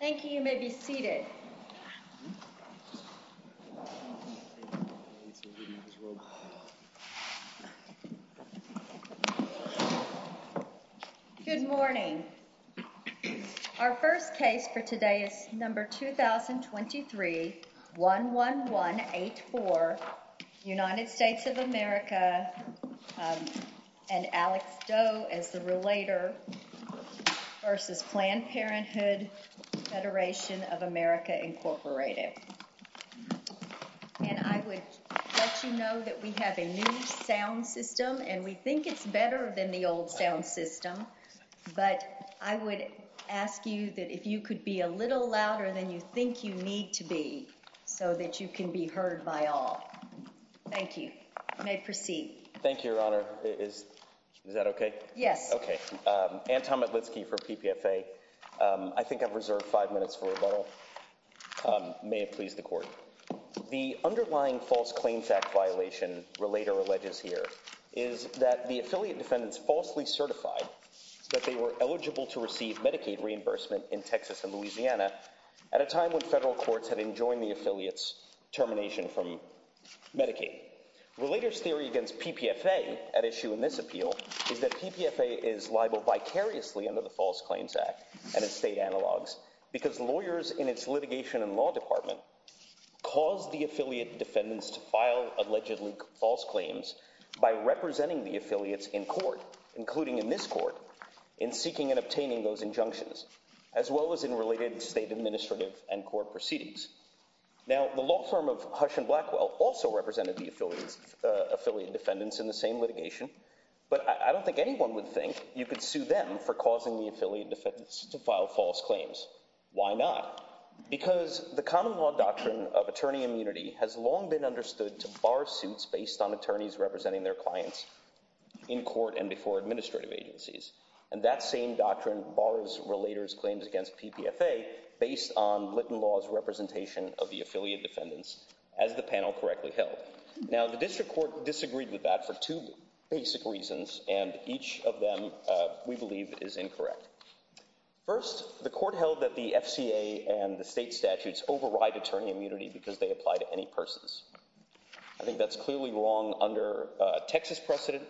Thank you. You may be seated. Good morning. Our first case for today is number 2023-11184, United States of America, and Alex Doe as the relator, v. Planned Parenthood, Federation of America, Incorporated. And I would let you know that we have a new sound system, and we think it's better than the old sound system, but I would ask you that if you could be a little louder than you think you need to be so that you can be heard by all. Thank you. You may proceed. Thank you, Your Honor. Is that okay? Yes. Okay. Anton Matlitsky for PPFA. I think I've reserved five minutes for rebuttal. May it please the Court. The underlying False Claims Act violation, relator alleges here, is that the affiliate defendants falsely certified that they were eligible to receive Medicaid reimbursement in Texas and Louisiana at a time when federal courts had enjoined the affiliate's termination from Medicaid. Relator's theory against PPFA at issue in this appeal is that PPFA is liable vicariously under the False Claims Act and its state analogs because lawyers in its litigation and law department caused the affiliate defendants to file allegedly false claims by representing the affiliates in court, including in this court, in seeking and obtaining those injunctions, as well as in related state administrative and court proceedings. Now, the law firm of Hush and Blackwell also represented the affiliate defendants in the same litigation, but I don't think anyone would think you could sue them for causing the affiliate defendants to file false claims. Why not? Because the common law doctrine of attorney immunity has long been understood to bar suits based on attorneys representing their clients in court and before administrative agencies. And that same doctrine bars relator's claims against PPFA based on Litton Law's representation of the affiliate defendants as the panel correctly held. Now, the district court disagreed with that for two basic reasons, and each of them we believe is incorrect. First, the court held that the FCA and the state statutes override attorney immunity because they apply to any persons. I think that's clearly wrong under Texas precedent,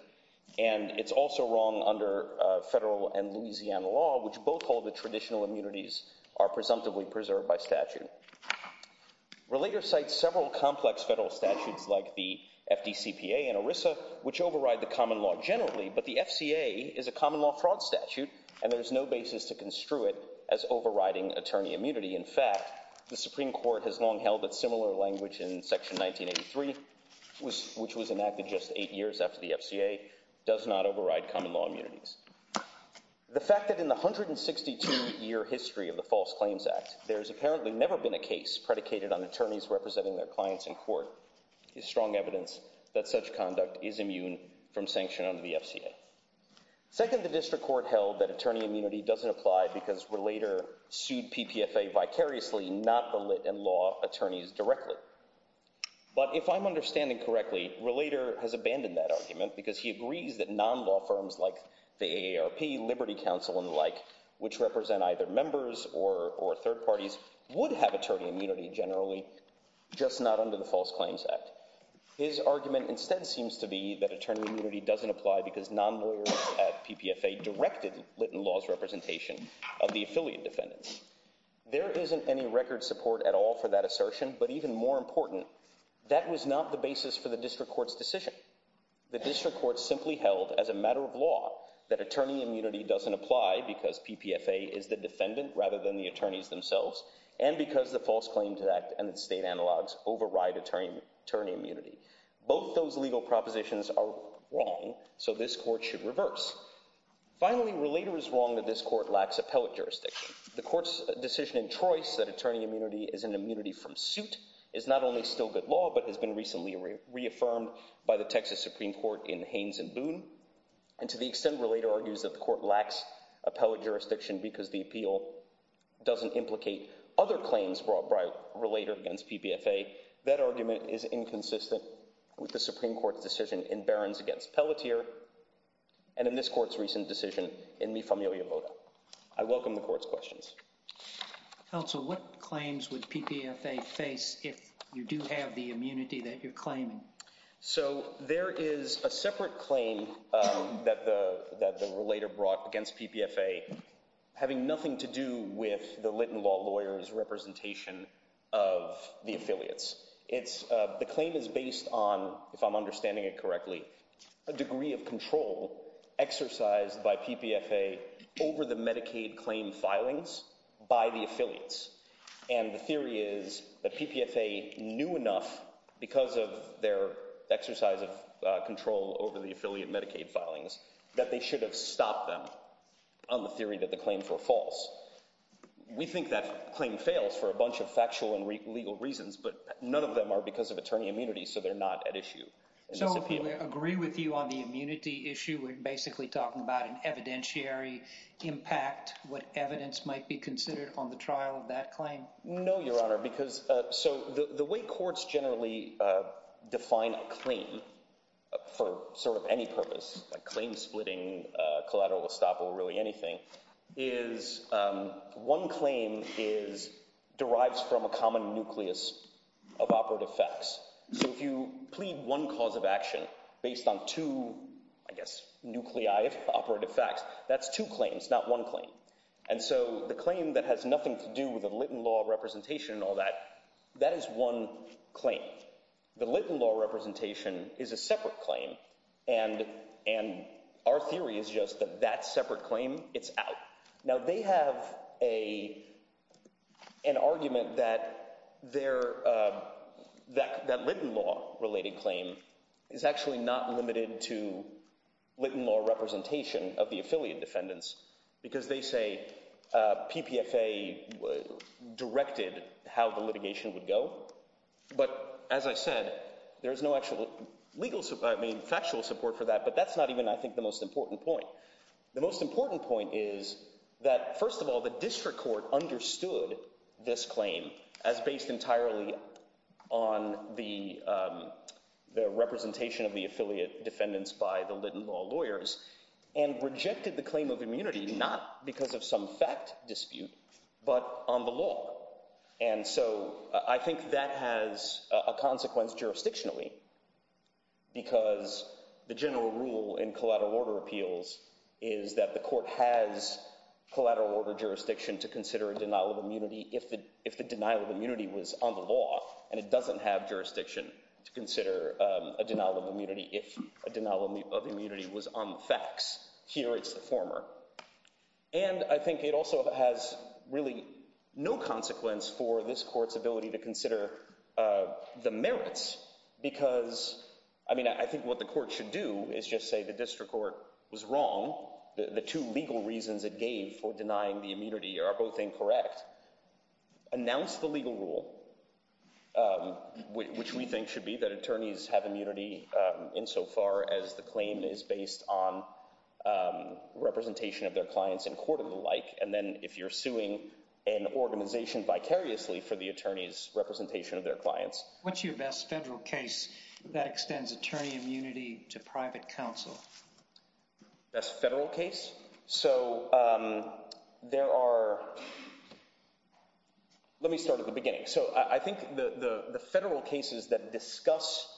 and it's also wrong under federal and Louisiana law, which both hold that traditional immunities are presumptively preserved by statute. Relator cites several complex federal statutes like the FDCPA and ERISA, which override the common law generally, but the FCA is a common law fraud statute, and there's no basis to construe it as overriding attorney immunity. In fact, the Supreme Court has long held that similar language in Section 1983, which was enacted just eight years after the FCA, does not override common law immunities. The fact that in the 162-year history of the False Claims Act, there's apparently never been a case predicated on attorneys representing their clients in court is strong evidence that such conduct is immune from sanction under the FCA. Second, the district court held that attorney immunity doesn't apply because relator sued PPFA vicariously, not the Litton Law attorneys directly. But if I'm understanding correctly, Relator has abandoned that argument because he agrees that non-law firms like the AARP, Liberty Counsel, and the like, which represent either members or third parties, would have attorney immunity generally, just not under the False Claims Act. His argument instead seems to be that attorney immunity doesn't apply because non-lawyers at PPFA directed Litton Law's representation of the affiliate defendants. There isn't any record support at all for that assertion, but even more important, that was not the basis for the district court's decision. The district court simply held, as a matter of law, that attorney immunity doesn't apply because PPFA is the defendant rather than the attorneys themselves, and because the False Claims Act and its state analogs override attorney immunity. Both those legal propositions are wrong, so this court should reverse. Finally, Relator is wrong that this court lacks appellate jurisdiction. The court's decision in Trois that attorney immunity is an immunity from suit is not only still good law but has been recently reaffirmed by the Texas Supreme Court in Haynes and Boone. And to the extent Relator argues that the court lacks appellate jurisdiction because the appeal doesn't implicate other claims brought by Relator against PPFA, that argument is inconsistent with the Supreme Court's decision in Barrons against Pelletier. And in this court's recent decision in Mi Familia Vota. I welcome the court's questions. Counsel, what claims would PPFA face if you do have the immunity that you're claiming? So there is a separate claim that the Relator brought against PPFA having nothing to do with the Lytton Law lawyer's representation of the affiliates. The claim is based on, if I'm understanding it correctly, a degree of control exercised by PPFA over the Medicaid claim filings by the affiliates. And the theory is that PPFA knew enough because of their exercise of control over the affiliate Medicaid filings that they should have stopped them on the theory that the claims were false. We think that claim fails for a bunch of factual and legal reasons, but none of them are because of attorney immunity, so they're not at issue. So if we agree with you on the immunity issue, we're basically talking about an evidentiary impact, what evidence might be considered on the trial of that claim? No, Your Honor, because the way courts generally define a claim for sort of any purpose, like claim splitting, collateral estoppel, really anything, is one claim derives from a common nucleus of operative facts. So if you plead one cause of action based on two, I guess, nuclei of operative facts, that's two claims, not one claim. And so the claim that has nothing to do with the Litton Law representation and all that, that is one claim. The Litton Law representation is a separate claim, and our theory is just that that separate claim, it's out. Now, they have an argument that that Litton Law-related claim is actually not limited to Litton Law representation of the affiliate defendants, because they say PPFA directed how the litigation would go. But as I said, there is no actual factual support for that, but that's not even, I think, the most important point. The most important point is that, first of all, the district court understood this claim as based entirely on the representation of the affiliate defendants by the Litton Law lawyers and rejected the claim of immunity, not because of some fact dispute, but on the law. And so I think that has a consequence jurisdictionally, because the general rule in collateral order appeals is that the court has collateral order jurisdiction to consider a denial of immunity if the denial of immunity was on the law, and it doesn't have jurisdiction to consider a denial of immunity if a denial of immunity was on the facts. Here, it's the former. And I think it also has really no consequence for this court's ability to consider the merits, because, I mean, I think what the court should do is just say the district court was wrong. The two legal reasons it gave for denying the immunity are both incorrect. Announce the legal rule, which we think should be that attorneys have immunity insofar as the claim is based on representation of their clients in court and the like, and then if you're suing an organization vicariously for the attorney's representation of their clients. What's your best federal case that extends attorney immunity to private counsel? Best federal case? So there are—let me start at the beginning. So I think the federal cases that discuss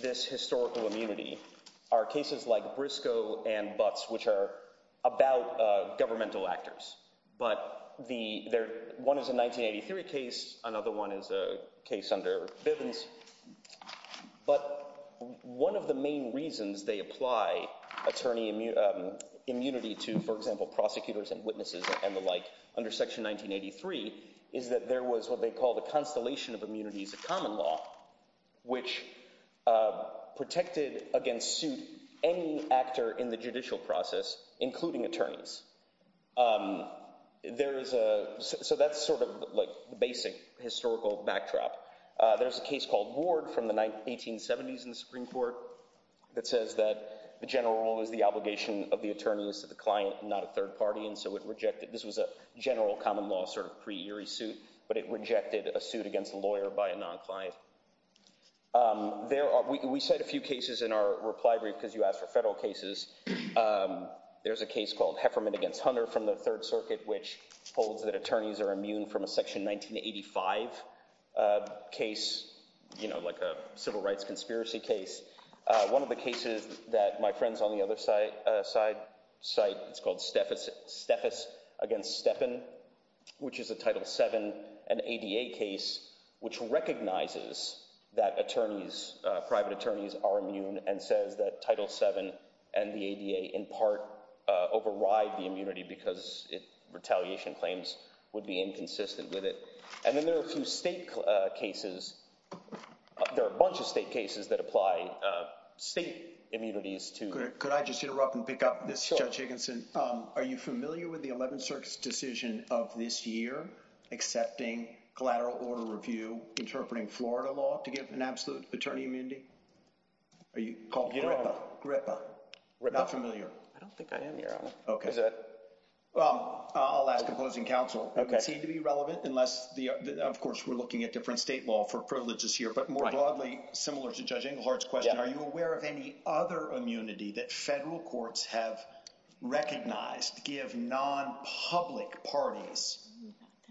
this historical immunity are cases like Briscoe and Butts, which are about governmental actors. But one is a 1983 case. Another one is a case under Bivens. But one of the main reasons they apply attorney immunity to, for example, prosecutors and witnesses and the like under Section 1983 is that there was what they call the constellation of immunities of common law, which protected against suit any actor in the judicial process, including attorneys. There is a—so that's sort of like the basic historical backdrop. There's a case called Ward from the 1870s in the Supreme Court that says that the general rule is the obligation of the attorneys to the client, not a third party, and so it rejected—this was a general common law sort of pre-eerie suit, but it rejected a suit against a lawyer by a non-client. There are—we cite a few cases in our reply brief because you asked for federal cases. There's a case called Hefferman v. Hunter from the Third Circuit, which holds that attorneys are immune from a Section 1985 case, like a civil rights conspiracy case. One of the cases that my friends on the other side cite, it's called Steffes v. Steppen, which is a Title VII and ADA case, which recognizes that attorneys, private attorneys, are immune and says that Title VII and the ADA in part override the immunity because retaliation claims would be inconsistent with it. And then there are a few state cases—there are a bunch of state cases that apply state immunities to— Could I just interrupt and pick up this, Judge Higginson? Sure. Are you familiar with the Eleventh Circuit's decision of this year accepting collateral order review interpreting Florida law to give an absolute attorney immunity? Are you—called GRIPPA? GRIPPA. Not familiar? I don't think I am, Your Honor. Okay. Well, I'll ask opposing counsel. Okay. It doesn't seem to be relevant unless—of course, we're looking at different state law for privileges here, but more broadly, similar to Judge Englehart's question, are you aware of any other immunity that federal courts have recognized give non-public parties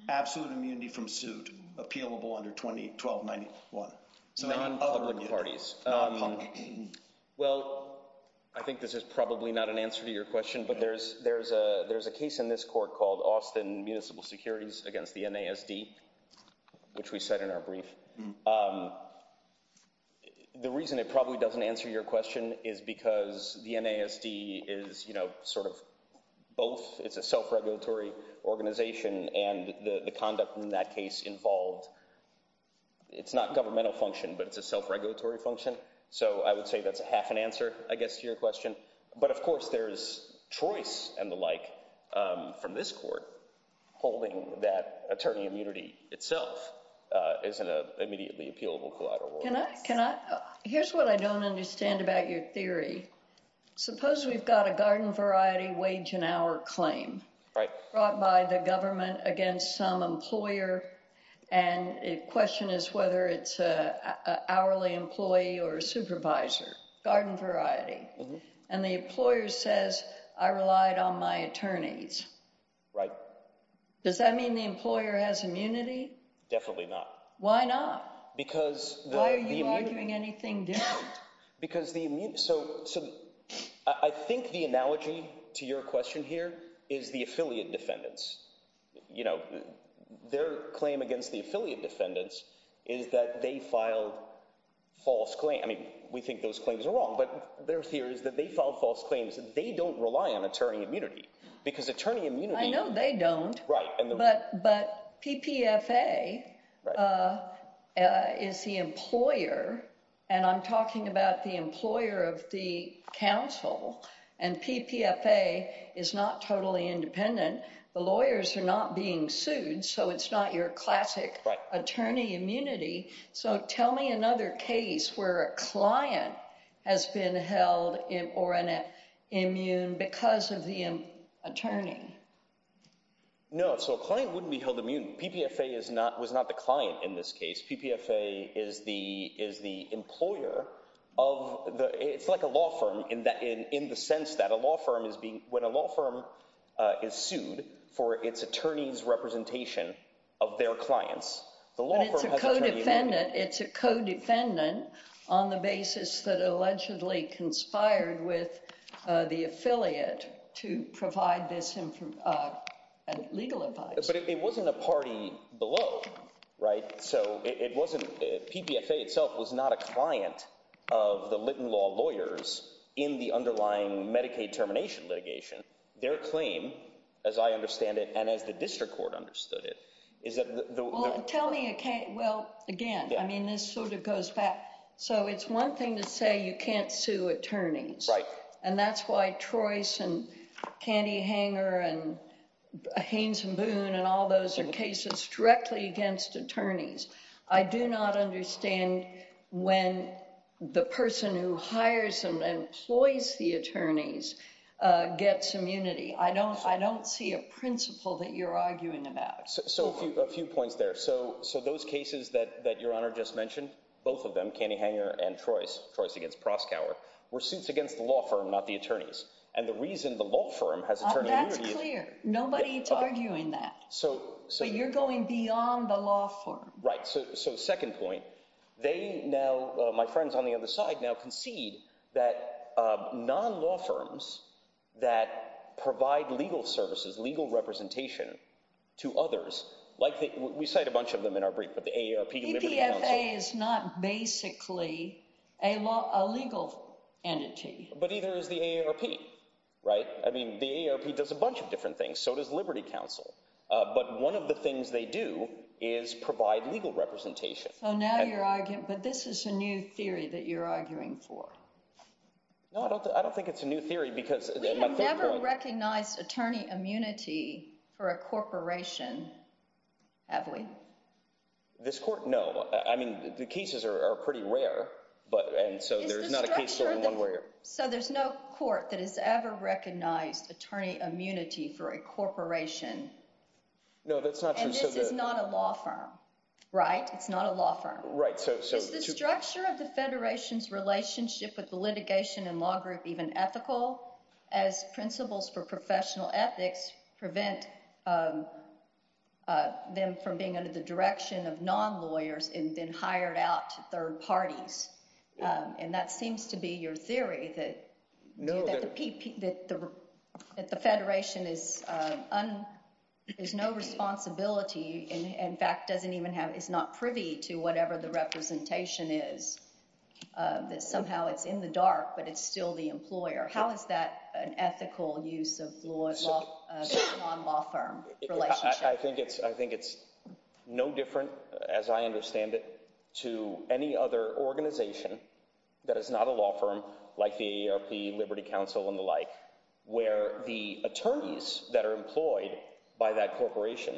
absolute immunity from suit, appealable under 1291? Non-public parties. Non-public. Well, I think this is probably not an answer to your question, but there's a case in this court called Austin Municipal Securities against the NASD, which we cite in our brief. The reason it probably doesn't answer your question is because the NASD is sort of both. It's a self-regulatory organization, and the conduct in that case involved—it's not governmental function, but it's a self-regulatory function. So I would say that's half an answer, I guess, to your question. But, of course, there's choice and the like from this court holding that attorney immunity itself isn't an immediately appealable collateral. Can I—here's what I don't understand about your theory. Suppose we've got a garden variety wage and hour claim brought by the government against some employer, and the question is whether it's an hourly employee or a supervisor. Garden variety. And the employer says, I relied on my attorneys. Right. Does that mean the employer has immunity? Definitely not. Why not? Because— Why are you arguing anything different? Because the—so I think the analogy to your question here is the affiliate defendants. Their claim against the affiliate defendants is that they filed false claims. I mean, we think those claims are wrong, but their theory is that they filed false claims. They don't rely on attorney immunity because attorney immunity— I know they don't. Right. But PPFA is the employer, and I'm talking about the employer of the counsel, and PPFA is not totally independent. The lawyers are not being sued, so it's not your classic attorney immunity. So tell me another case where a client has been held immune because of the attorney. No, so a client wouldn't be held immune. PPFA was not the client in this case. PPFA is the employer of the—it's like a law firm in the sense that a law firm is being—when a law firm is sued for its attorney's representation of their clients, the law firm has attorney immunity. It's a co-defendant on the basis that allegedly conspired with the affiliate to provide this legal advice. But it wasn't a party below, right? So it wasn't—PPFA itself was not a client of the Litton Law lawyers in the underlying Medicaid termination litigation. Their claim, as I understand it and as the district court understood it, is that— Well, tell me—well, again, I mean this sort of goes back. So it's one thing to say you can't sue attorneys. And that's why Trois and Candy Hanger and Haynes and Boone and all those are cases directly against attorneys. I do not understand when the person who hires and employs the attorneys gets immunity. I don't see a principle that you're arguing about. So a few points there. So those cases that Your Honor just mentioned, both of them, Candy Hanger and Trois, Trois against Proskauer, were suits against the law firm, not the attorneys. And the reason the law firm has attorney immunity— That's clear. Nobody is arguing that. But you're going beyond the law firm. Right. So second point, they now—my friends on the other side now concede that non-law firms that provide legal services, legal representation to others like—we cite a bunch of them in our brief, but the AARP, Liberty Council— PPFA is not basically a legal entity. But either is the AARP, right? I mean the AARP does a bunch of different things. So does Liberty Council. But one of the things they do is provide legal representation. So now you're arguing—but this is a new theory that you're arguing for. No, I don't think it's a new theory because— We have never recognized attorney immunity for a corporation, have we? This court, no. I mean the cases are pretty rare, and so there's not a case over one where— So there's no court that has ever recognized attorney immunity for a corporation. No, that's not true. And this is not a law firm, right? It's not a law firm. Right. So— Is the structure of the Federation's relationship with the litigation and law group even ethical as principles for professional ethics prevent them from being under the direction of non-lawyers and then hired out to third parties? And that seems to be your theory, that the Federation is no responsibility, in fact, doesn't even have—is not privy to whatever the representation is, that somehow it's in the dark but it's still the employer. How is that an ethical use of law as a non-law firm relationship? I think it's no different, as I understand it, to any other organization that is not a law firm like the AARP, Liberty Council, and the like, where the attorneys that are employed by that corporation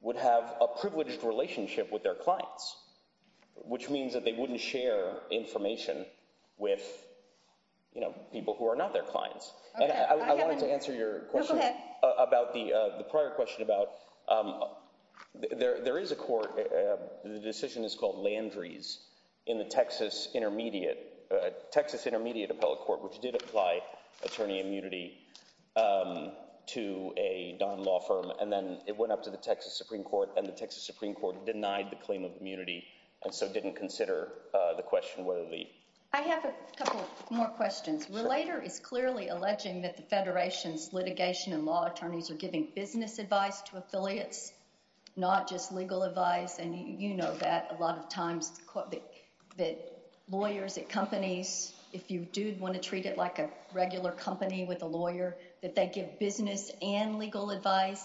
would have a privileged relationship with their clients, which means that they wouldn't share information with people who are not their clients. And I wanted to answer your question about the—the prior question about—there is a court—the decision is called Landry's in the Texas Intermediate—Texas Intermediate Appellate Court, which did apply attorney immunity to a non-law firm, and then it went up to the Texas Supreme Court, and the Texas Supreme Court denied the claim of immunity and so didn't consider the question whether the— I have a couple more questions. Relator is clearly alleging that the Federation's litigation and law attorneys are giving business advice to affiliates, not just legal advice. And you know that a lot of times that lawyers at companies, if you do want to treat it like a regular company with a lawyer, that they give business and legal advice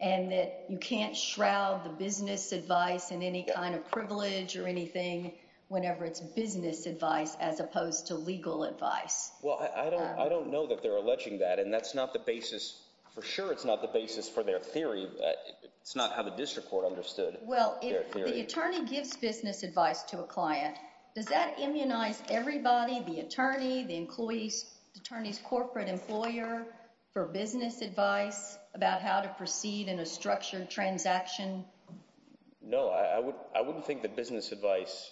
and that you can't shroud the business advice in any kind of privilege or anything whenever it's business advice as opposed to legal advice. Well, I don't know that they're alleging that, and that's not the basis—for sure it's not the basis for their theory, but it's not how the district court understood. Well, if the attorney gives business advice to a client, does that immunize everybody—the attorney, the employees, the attorney's corporate employer—for business advice about how to proceed in a structured transaction? No, I wouldn't think that business advice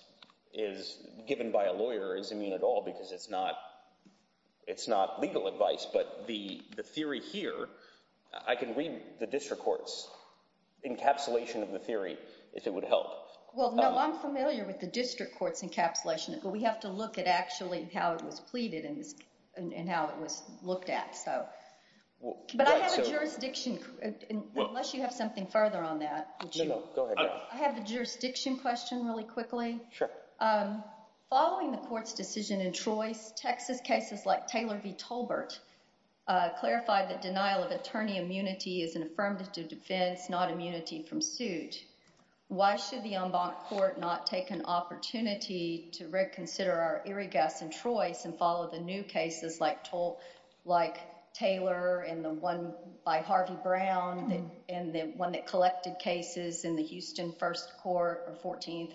is given by a lawyer is immune at all because it's not legal advice, but the theory here—I can read the district court's encapsulation of the theory if it would help. Well, no, I'm familiar with the district court's encapsulation, but we have to look at actually how it was pleaded and how it was looked at. But I have a jurisdiction—unless you have something further on that. No, no, go ahead. I have a jurisdiction question really quickly. Sure. Following the court's decision in Trois, Texas cases like Taylor v. Tolbert clarified that denial of attorney immunity is an affirmative defense, not immunity from suit. Why should the en banc court not take an opportunity to reconsider our irregulars in Trois and follow the new cases like Taylor and the one by Harvey Brown and the one that collected cases in the Houston First Court on the 14th?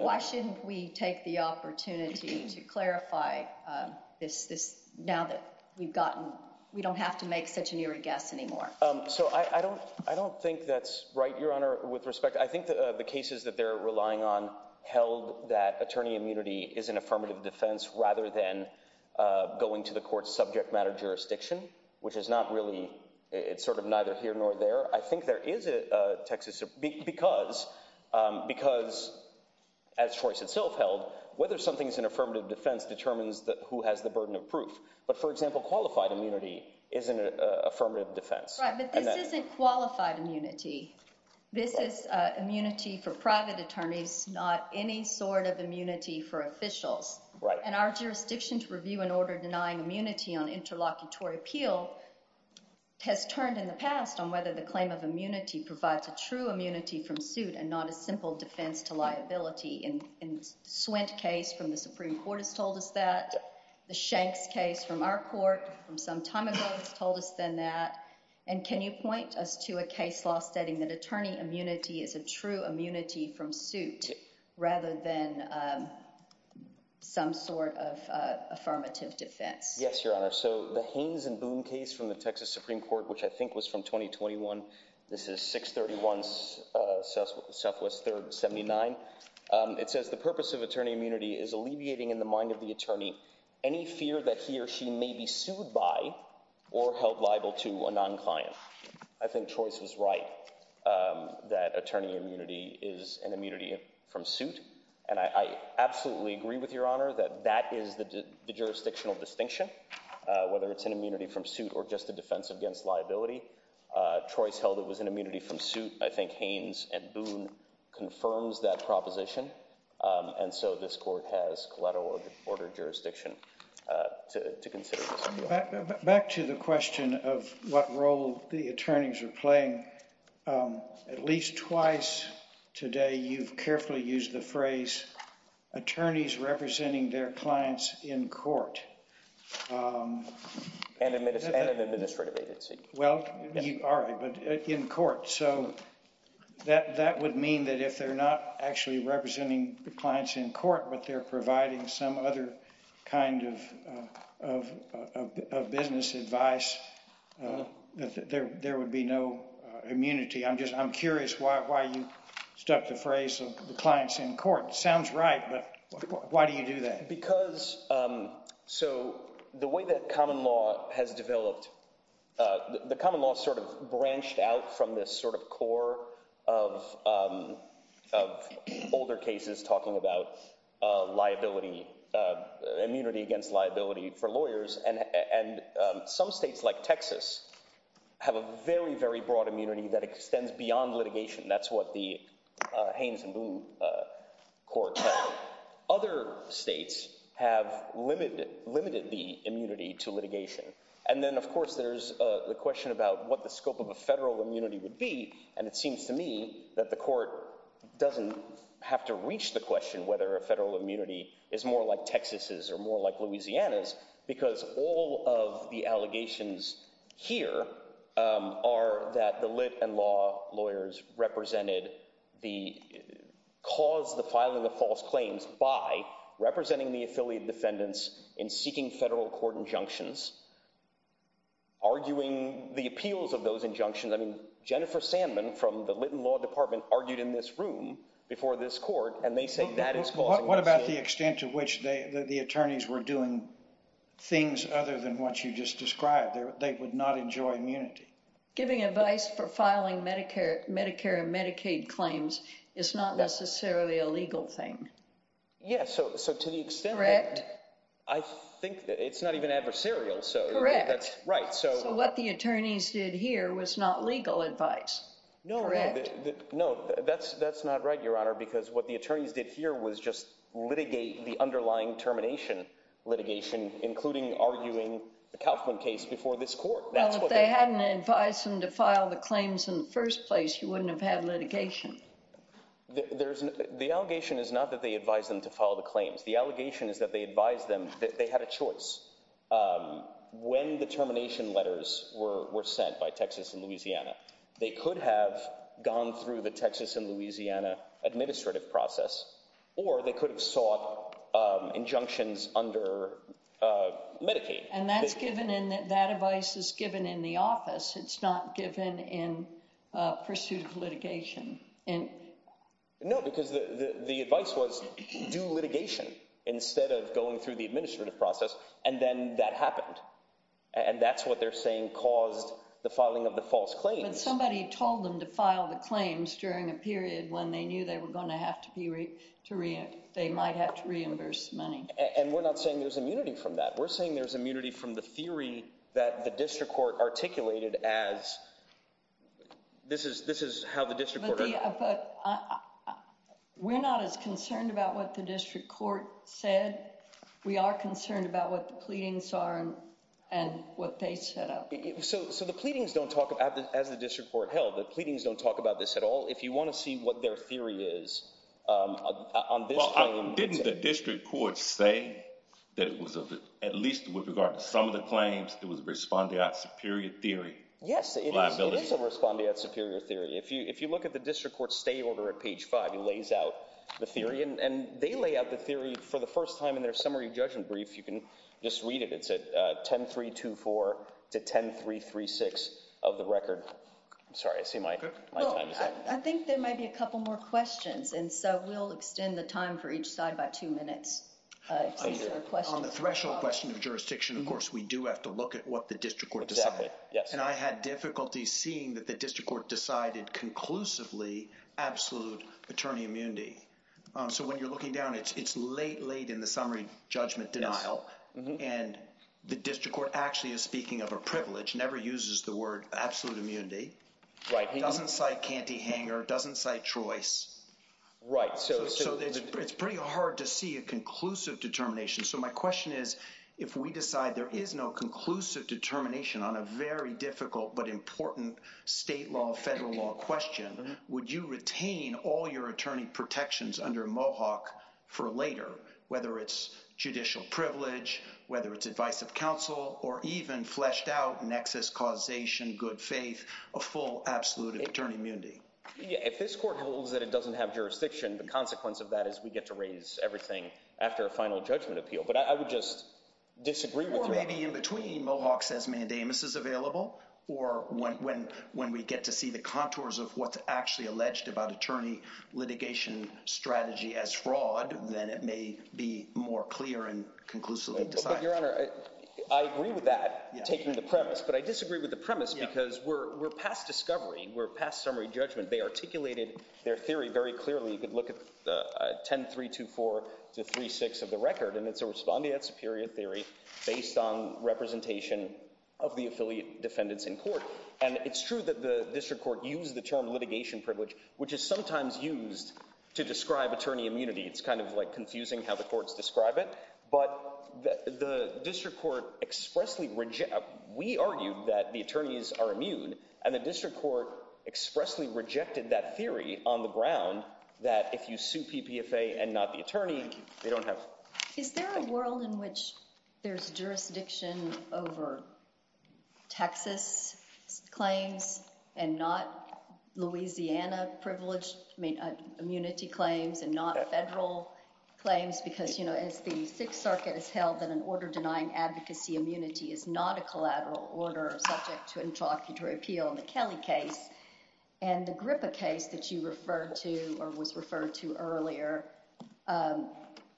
Why shouldn't we take the opportunity to clarify this now that we've gotten—we don't have to make such an irregular anymore? So I don't think that's right, Your Honor, with respect. I think the cases that they're relying on held that attorney immunity is an affirmative defense rather than going to the court's subject matter jurisdiction, which is not really—it's sort of neither here nor there. I think there is a Texas—because as Trois itself held, whether something is an affirmative defense determines who has the burden of proof. But, for example, qualified immunity is an affirmative defense. But this isn't qualified immunity. This is immunity for private attorneys, not any sort of immunity for officials. Right. And our jurisdiction to review an order denying immunity on interlocutory appeal has turned in the past on whether the claim of immunity provides a true immunity from suit and not a simple defense to liability. And the Swint case from the Supreme Court has told us that. The Shanks case from our court from some time ago has told us then that. And can you point us to a case law stating that attorney immunity is a true immunity from suit rather than some sort of affirmative defense? Yes, Your Honor. So the Haynes and Boone case from the Texas Supreme Court, which I think was from 2021—this is 631 Southwest 3rd 79. It says the purpose of attorney immunity is alleviating in the mind of the attorney any fear that he or she may be sued by or held liable to a non-client. I think Trois was right that attorney immunity is an immunity from suit. And I absolutely agree with Your Honor that that is the jurisdictional distinction, whether it's an immunity from suit or just a defense against liability. Trois held it was an immunity from suit. I think Haynes and Boone confirms that proposition. And so this court has collateral order jurisdiction to consider. Back to the question of what role the attorneys are playing. At least twice today, you've carefully used the phrase attorneys representing their clients in court. And administrative agency. All right. But in court. So that would mean that if they're not actually representing the clients in court, but they're providing some other kind of business advice, that there would be no immunity. I'm just I'm curious why you stuck the phrase of the clients in court. Sounds right. But why do you do that? Because so the way that common law has developed, the common law sort of branched out from this sort of core of of older cases talking about liability, immunity against liability for lawyers. And some states like Texas have a very, very broad immunity that extends beyond litigation. That's what the Haynes and Boone court. Other states have limited, limited the immunity to litigation. And then, of course, there's the question about what the scope of a federal immunity would be. And it seems to me that the court doesn't have to reach the question whether a federal immunity is more like Texas's or more like Louisiana's, because all of the allegations here are that the lit and law lawyers represented the cause, the filing of false claims by representing the affiliate defendants in seeking federal court injunctions. Arguing the appeals of those injunctions, I mean, Jennifer Sandman from the law department argued in this room before this court and they say that is what about the extent to which the attorneys were doing things other than what you just described. They would not enjoy immunity. Giving advice for filing Medicare, Medicare and Medicaid claims is not necessarily a legal thing. Yes. So to the extent. Correct. I think it's not even adversarial. So that's right. So what the attorneys did here was not legal advice. No, no, no. That's that's not right, Your Honor, because what the attorneys did here was just litigate the underlying termination litigation, including arguing the Kaufman case before this court. Well, if they hadn't advised them to file the claims in the first place, you wouldn't have had litigation. There's the allegation is not that they advise them to follow the claims. The allegation is that they advise them that they had a choice when the termination letters were sent by Texas and Louisiana. They could have gone through the Texas and Louisiana administrative process or they could have sought injunctions under Medicaid. And that's given in that that advice is given in the office. It's not given in pursuit of litigation. And no, because the advice was due litigation instead of going through the administrative process. And then that happened. And that's what they're saying caused the filing of the false claims. And somebody told them to file the claims during a period when they knew they were going to have to be to read. They might have to reimburse money. And we're not saying there's immunity from that. We're saying there's immunity from the theory that the district court articulated as this is this is how the district. But we're not as concerned about what the district court said. We are concerned about what the pleadings are and what they said. So so the pleadings don't talk about that as the district court held that pleadings don't talk about this at all. If you want to see what their theory is on this. Didn't the district court say that it was at least with regard to some of the claims that was responding out superior theory? Yes. It is a respondeat superior theory. If you if you look at the district court stay order at page five, he lays out the theory and they lay out the theory for the first time in their summary judgment brief. You can just read it. It's a 10 3 2 4 to 10 3 3 6 of the record. I'm sorry. I see my I think there might be a couple more questions. And so we'll extend the time for each side by two minutes. On the threshold question of jurisdiction, of course, we do have to look at what the district court. Yes. And I had difficulty seeing that the district court decided conclusively absolute attorney immunity. So when you're looking down, it's late, late in the summary judgment denial. And the district court actually is speaking of a privilege, never uses the word absolute immunity. Right. He doesn't say can't hang or doesn't say choice. Right. So it's pretty hard to see a conclusive determination. So my question is, if we decide there is no conclusive determination on a very difficult but important state law, federal law question, would you retain all your attorney protections under Mohawk for later, whether it's judicial privilege, whether it's advice of counsel or even fleshed out nexus causation, good faith, a full absolute attorney immunity? If this court holds that it doesn't have jurisdiction, the consequence of that is we get to raise everything after a final judgment appeal. But I would just disagree with you. Maybe in between Mohawk says mandamus is available. Or when when when we get to see the contours of what's actually alleged about attorney litigation strategy as fraud, then it may be more clear and conclusively decide your honor. I agree with that taking the premise, but I disagree with the premise because we're we're past discovery. We're past summary judgment. They articulated their theory very clearly. You could look at the ten, three, two, four, two, three, six of the record. And it's a respondeat superior theory based on representation of the affiliate defendants in court. And it's true that the district court used the term litigation privilege, which is sometimes used to describe attorney immunity. It's kind of like confusing how the courts describe it. But the district court expressly reject. We argued that the attorneys are immune and the district court expressly rejected that theory on the ground that if you sue PPFA and not the attorney, they don't have. Is there a world in which there's jurisdiction over Texas claims and not Louisiana privilege? I mean, immunity claims and not federal claims, because, you know, it's the Sixth Circuit has held that an order denying advocacy immunity is not a collateral order subject to interlocutory appeal in the Kelly case. And the Gripa case that you referred to or was referred to earlier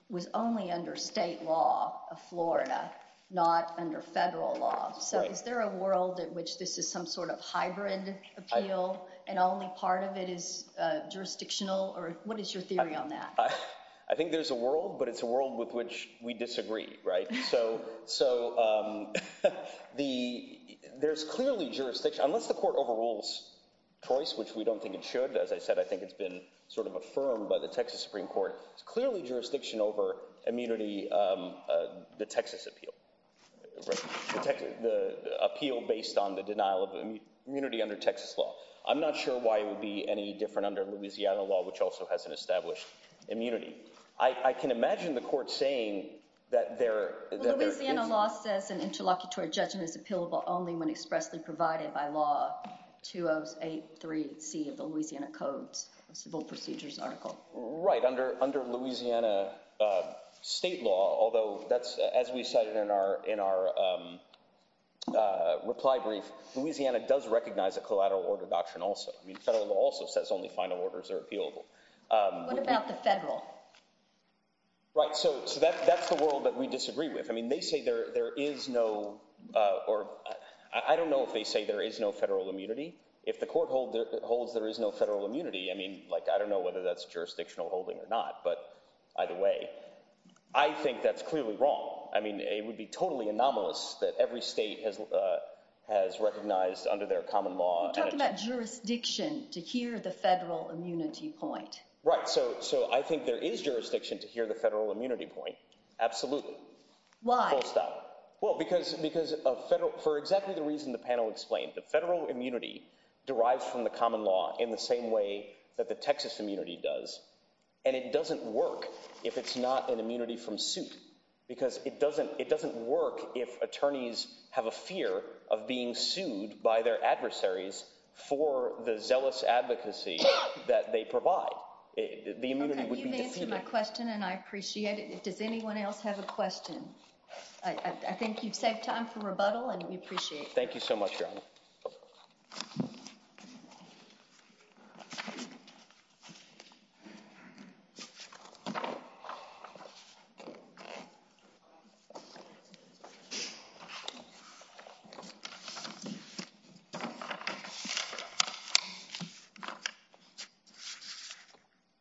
was only under state law of Florida, not under federal law. So is there a world in which this is some sort of hybrid appeal and only part of it is jurisdictional or what is your theory on that? I think there's a world, but it's a world with which we disagree. Right. So so the there's clearly jurisdiction unless the court overrules choice, which we don't think it should. As I said, I think it's been sort of affirmed by the Texas Supreme Court. It's clearly jurisdiction over immunity. The Texas appeal, the appeal based on the denial of immunity under Texas law. I'm not sure why it would be any different under Louisiana law, which also has an established immunity. I can imagine the court saying that they're Louisiana law says an interlocutory judgment is appealable only when expressly provided by law. Two of a three C of the Louisiana codes civil procedures article. Right. Under under Louisiana state law, although that's as we cited in our in our reply brief, Louisiana does recognize a collateral order doctrine also. I mean, federal law also says only final orders are appealable. What about the federal? Right. So that's the world that we disagree with. I mean, they say there there is no or I don't know if they say there is no federal immunity. If the court holds there is no federal immunity. I mean, like, I don't know whether that's jurisdictional holding or not. But either way, I think that's clearly wrong. I mean, it would be totally anomalous that every state has has recognized under their common law. Talking about jurisdiction to hear the federal immunity point. Right. So so I think there is jurisdiction to hear the federal immunity point. Absolutely. Why? Well, because because of federal for exactly the reason the panel explained, the federal immunity derives from the common law in the same way that the Texas immunity does. And it doesn't work if it's not an immunity from suit, because it doesn't it doesn't work if attorneys have a fear of being sued by their adversaries for the zealous advocacy that they provide. My question, and I appreciate it. Does anyone else have a question? I think you've saved time for rebuttal and we appreciate. Thank you so much.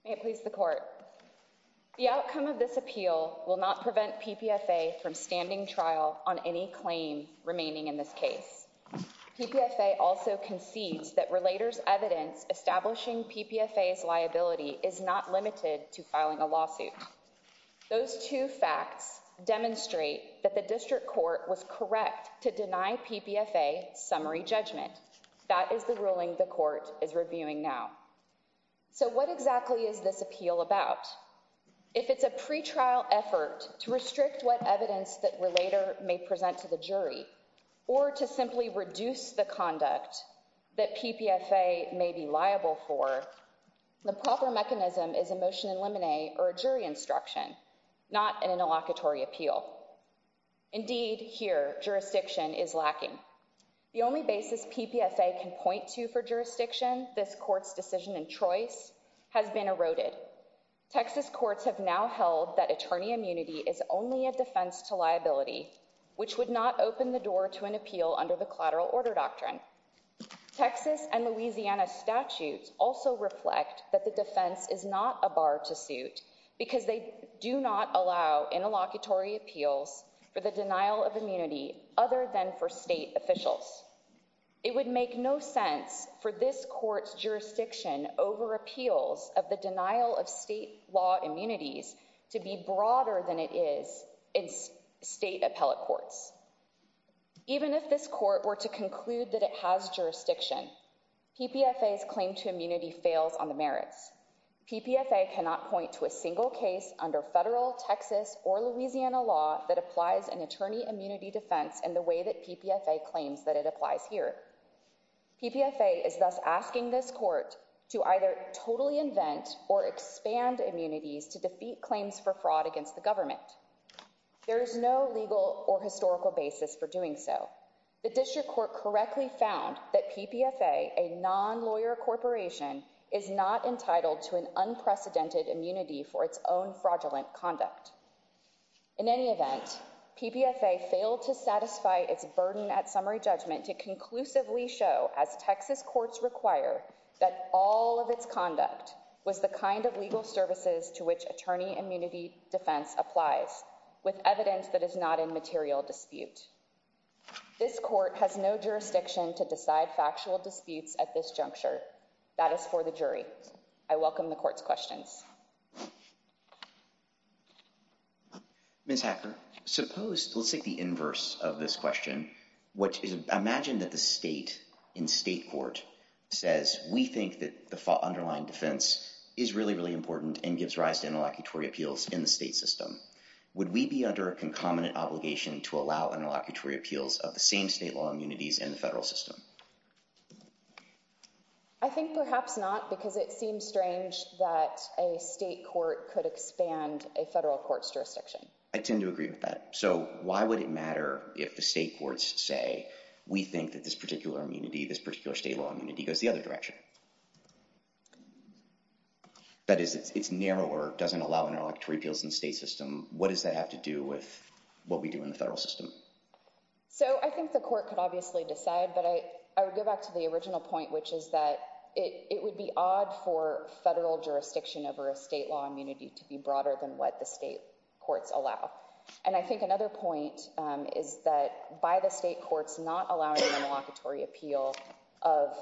May it please the court. The outcome of this appeal will not prevent PPFA from standing trial on any claim remaining in this case. PPFA also concedes that relators evidence establishing PPFA liability is not limited to filing a lawsuit. Those two facts demonstrate that the district court was correct to deny PPFA summary judgment. That is the ruling the court is reviewing now. So what exactly is this appeal about? If it's a pretrial effort to restrict what evidence that relator may present to the jury or to simply reduce the conduct that PPFA may be liable for. The proper mechanism is a motion in limine or a jury instruction, not an interlocutory appeal. Indeed, here, jurisdiction is lacking. The only basis PPFA can point to for jurisdiction, this court's decision and choice has been eroded. Texas courts have now held that attorney immunity is only a defense to liability, which would not open the door to an appeal under the collateral order doctrine. Texas and Louisiana statutes also reflect that the defense is not a bar to suit because they do not allow interlocutory appeals for the denial of immunity other than for state officials. It would make no sense for this court's jurisdiction over appeals of the denial of state law immunities to be broader than it is in state appellate courts. Even if this court were to conclude that it has jurisdiction, PPFA's claim to immunity fails on the merits. PPFA cannot point to a single case under federal Texas or Louisiana law that applies an attorney immunity defense in the way that PPFA claims that it applies here. PPFA is thus asking this court to either totally invent or expand immunities to defeat claims for fraud against the government. There is no legal or historical basis for doing so. The district court correctly found that PPFA, a non-lawyer corporation, is not entitled to an unprecedented immunity for its own fraudulent conduct. In any event, PPFA failed to satisfy its burden at summary judgment to conclusively show, as Texas courts require, that all of its conduct was the kind of legal services to which attorney immunity defense applies, with evidence that is not in material dispute. This court has no jurisdiction to decide factual disputes at this juncture. That is for the jury. I welcome the court's questions. Ms. Hacker, suppose, let's take the inverse of this question. Imagine that the state in state court says, we think that the underlying defense is really, really important and gives rise to interlocutory appeals in the state system. Would we be under a concomitant obligation to allow interlocutory appeals of the same state law immunities in the federal system? I think perhaps not, because it seems strange that a state court could expand a federal court's jurisdiction. I tend to agree with that. So why would it matter if the state courts say, we think that this particular immunity, this particular state law immunity, goes the other direction? That is, it's narrower, doesn't allow interlocutory appeals in the state system. What does that have to do with what we do in the federal system? So I think the court could obviously decide. But I would go back to the original point, which is that it would be odd for federal jurisdiction over a state law immunity to be broader than what the state courts allow. And I think another point is that by the state courts not allowing interlocutory appeal of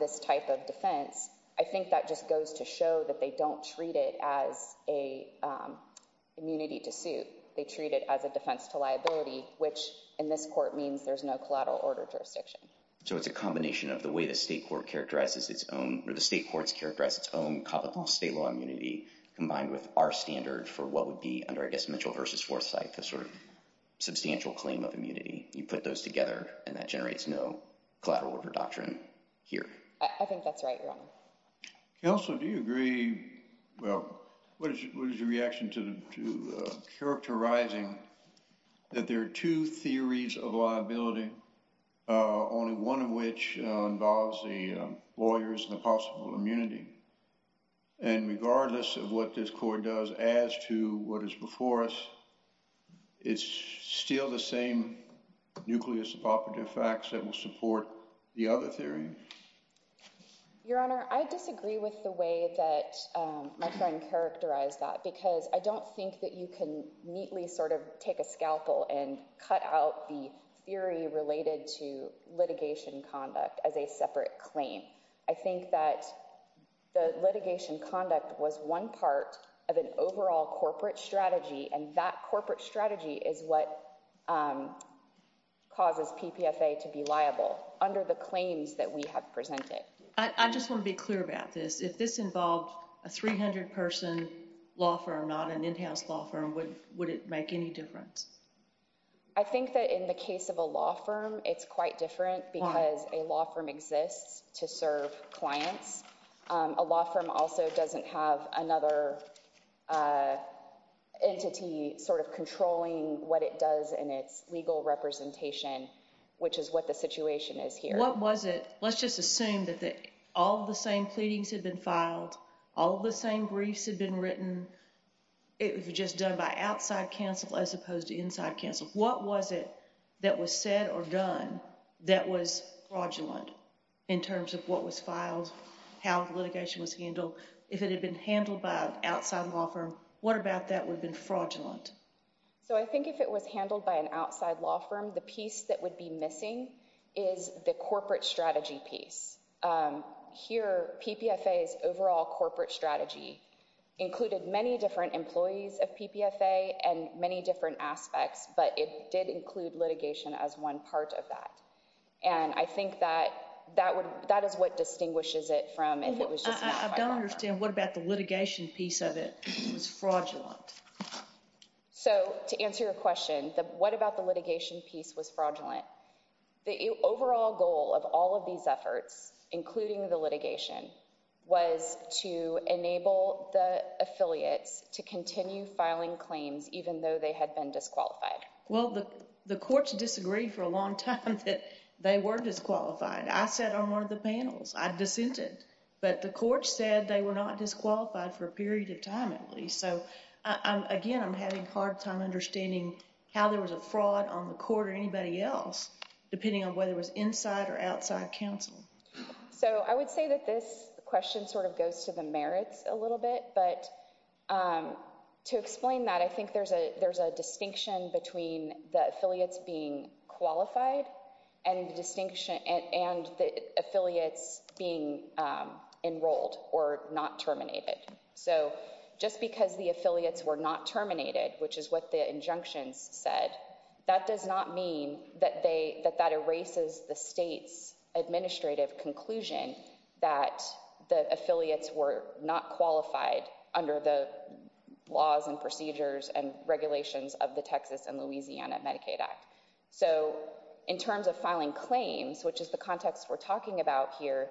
this type of defense, I think that just goes to show that they don't treat it as a immunity to suit. They treat it as a defense to liability, which in this court means there's no collateral order jurisdiction. So it's a combination of the way the state court characterizes its own state law immunity combined with our standard for what would be under, I guess, Mitchell v. Forsyth, a sort of substantial claim of immunity. You put those together and that generates no collateral order doctrine here. I think that's right, Your Honor. Counsel, do you agree? Well, what is your reaction to characterizing that there are two theories of liability, only one of which involves the lawyers and the possible immunity? And regardless of what this court does as to what is before us, it's still the same nucleus of operative facts that will support the other theory? Your Honor, I disagree with the way that my friend characterized that because I don't think that you can neatly sort of take a scalpel and cut out the theory related to litigation conduct as a separate claim. I think that the litigation conduct was one part of an overall corporate strategy, and that corporate strategy is what causes PPFA to be liable under the claims that we have presented. I just want to be clear about this. If this involved a 300-person law firm, not an in-house law firm, would it make any difference? I think that in the case of a law firm, it's quite different because a law firm exists to serve clients. A law firm also doesn't have another entity sort of controlling what it does in its legal representation, which is what the situation is here. Let's just assume that all of the same pleadings had been filed, all of the same briefs had been written, it was just done by outside counsel as opposed to inside counsel. What was it that was said or done that was fraudulent in terms of what was filed, how litigation was handled? If it had been handled by an outside law firm, what about that would have been fraudulent? I think if it was handled by an outside law firm, the piece that would be missing is the corporate strategy piece. Here, PPFA's overall corporate strategy included many different employees of PPFA and many different aspects, but it did include litigation as one part of that. I think that that is what distinguishes it from if it was just filed by a law firm. I don't understand. What about the litigation piece of it was fraudulent? To answer your question, the what about the litigation piece was fraudulent, the overall goal of all of these efforts, including the litigation, was to enable the affiliates to continue filing claims even though they had been disqualified. Well, the courts disagreed for a long time that they were disqualified. I sat on one of the panels. I dissented. But the courts said they were not disqualified for a period of time at least. So, again, I'm having a hard time understanding how there was a fraud on the court or anybody else, depending on whether it was inside or outside counsel. So I would say that this question sort of goes to the merits a little bit, but to explain that, I think there's a distinction between the affiliates being qualified and the affiliates being enrolled or not terminated. So just because the affiliates were not terminated, which is what the injunctions said, that does not mean that that erases the state's administrative conclusion that the affiliates were not qualified under the laws and procedures and regulations of the Texas and Louisiana Medicaid Act. So in terms of filing claims, which is the context we're talking about here,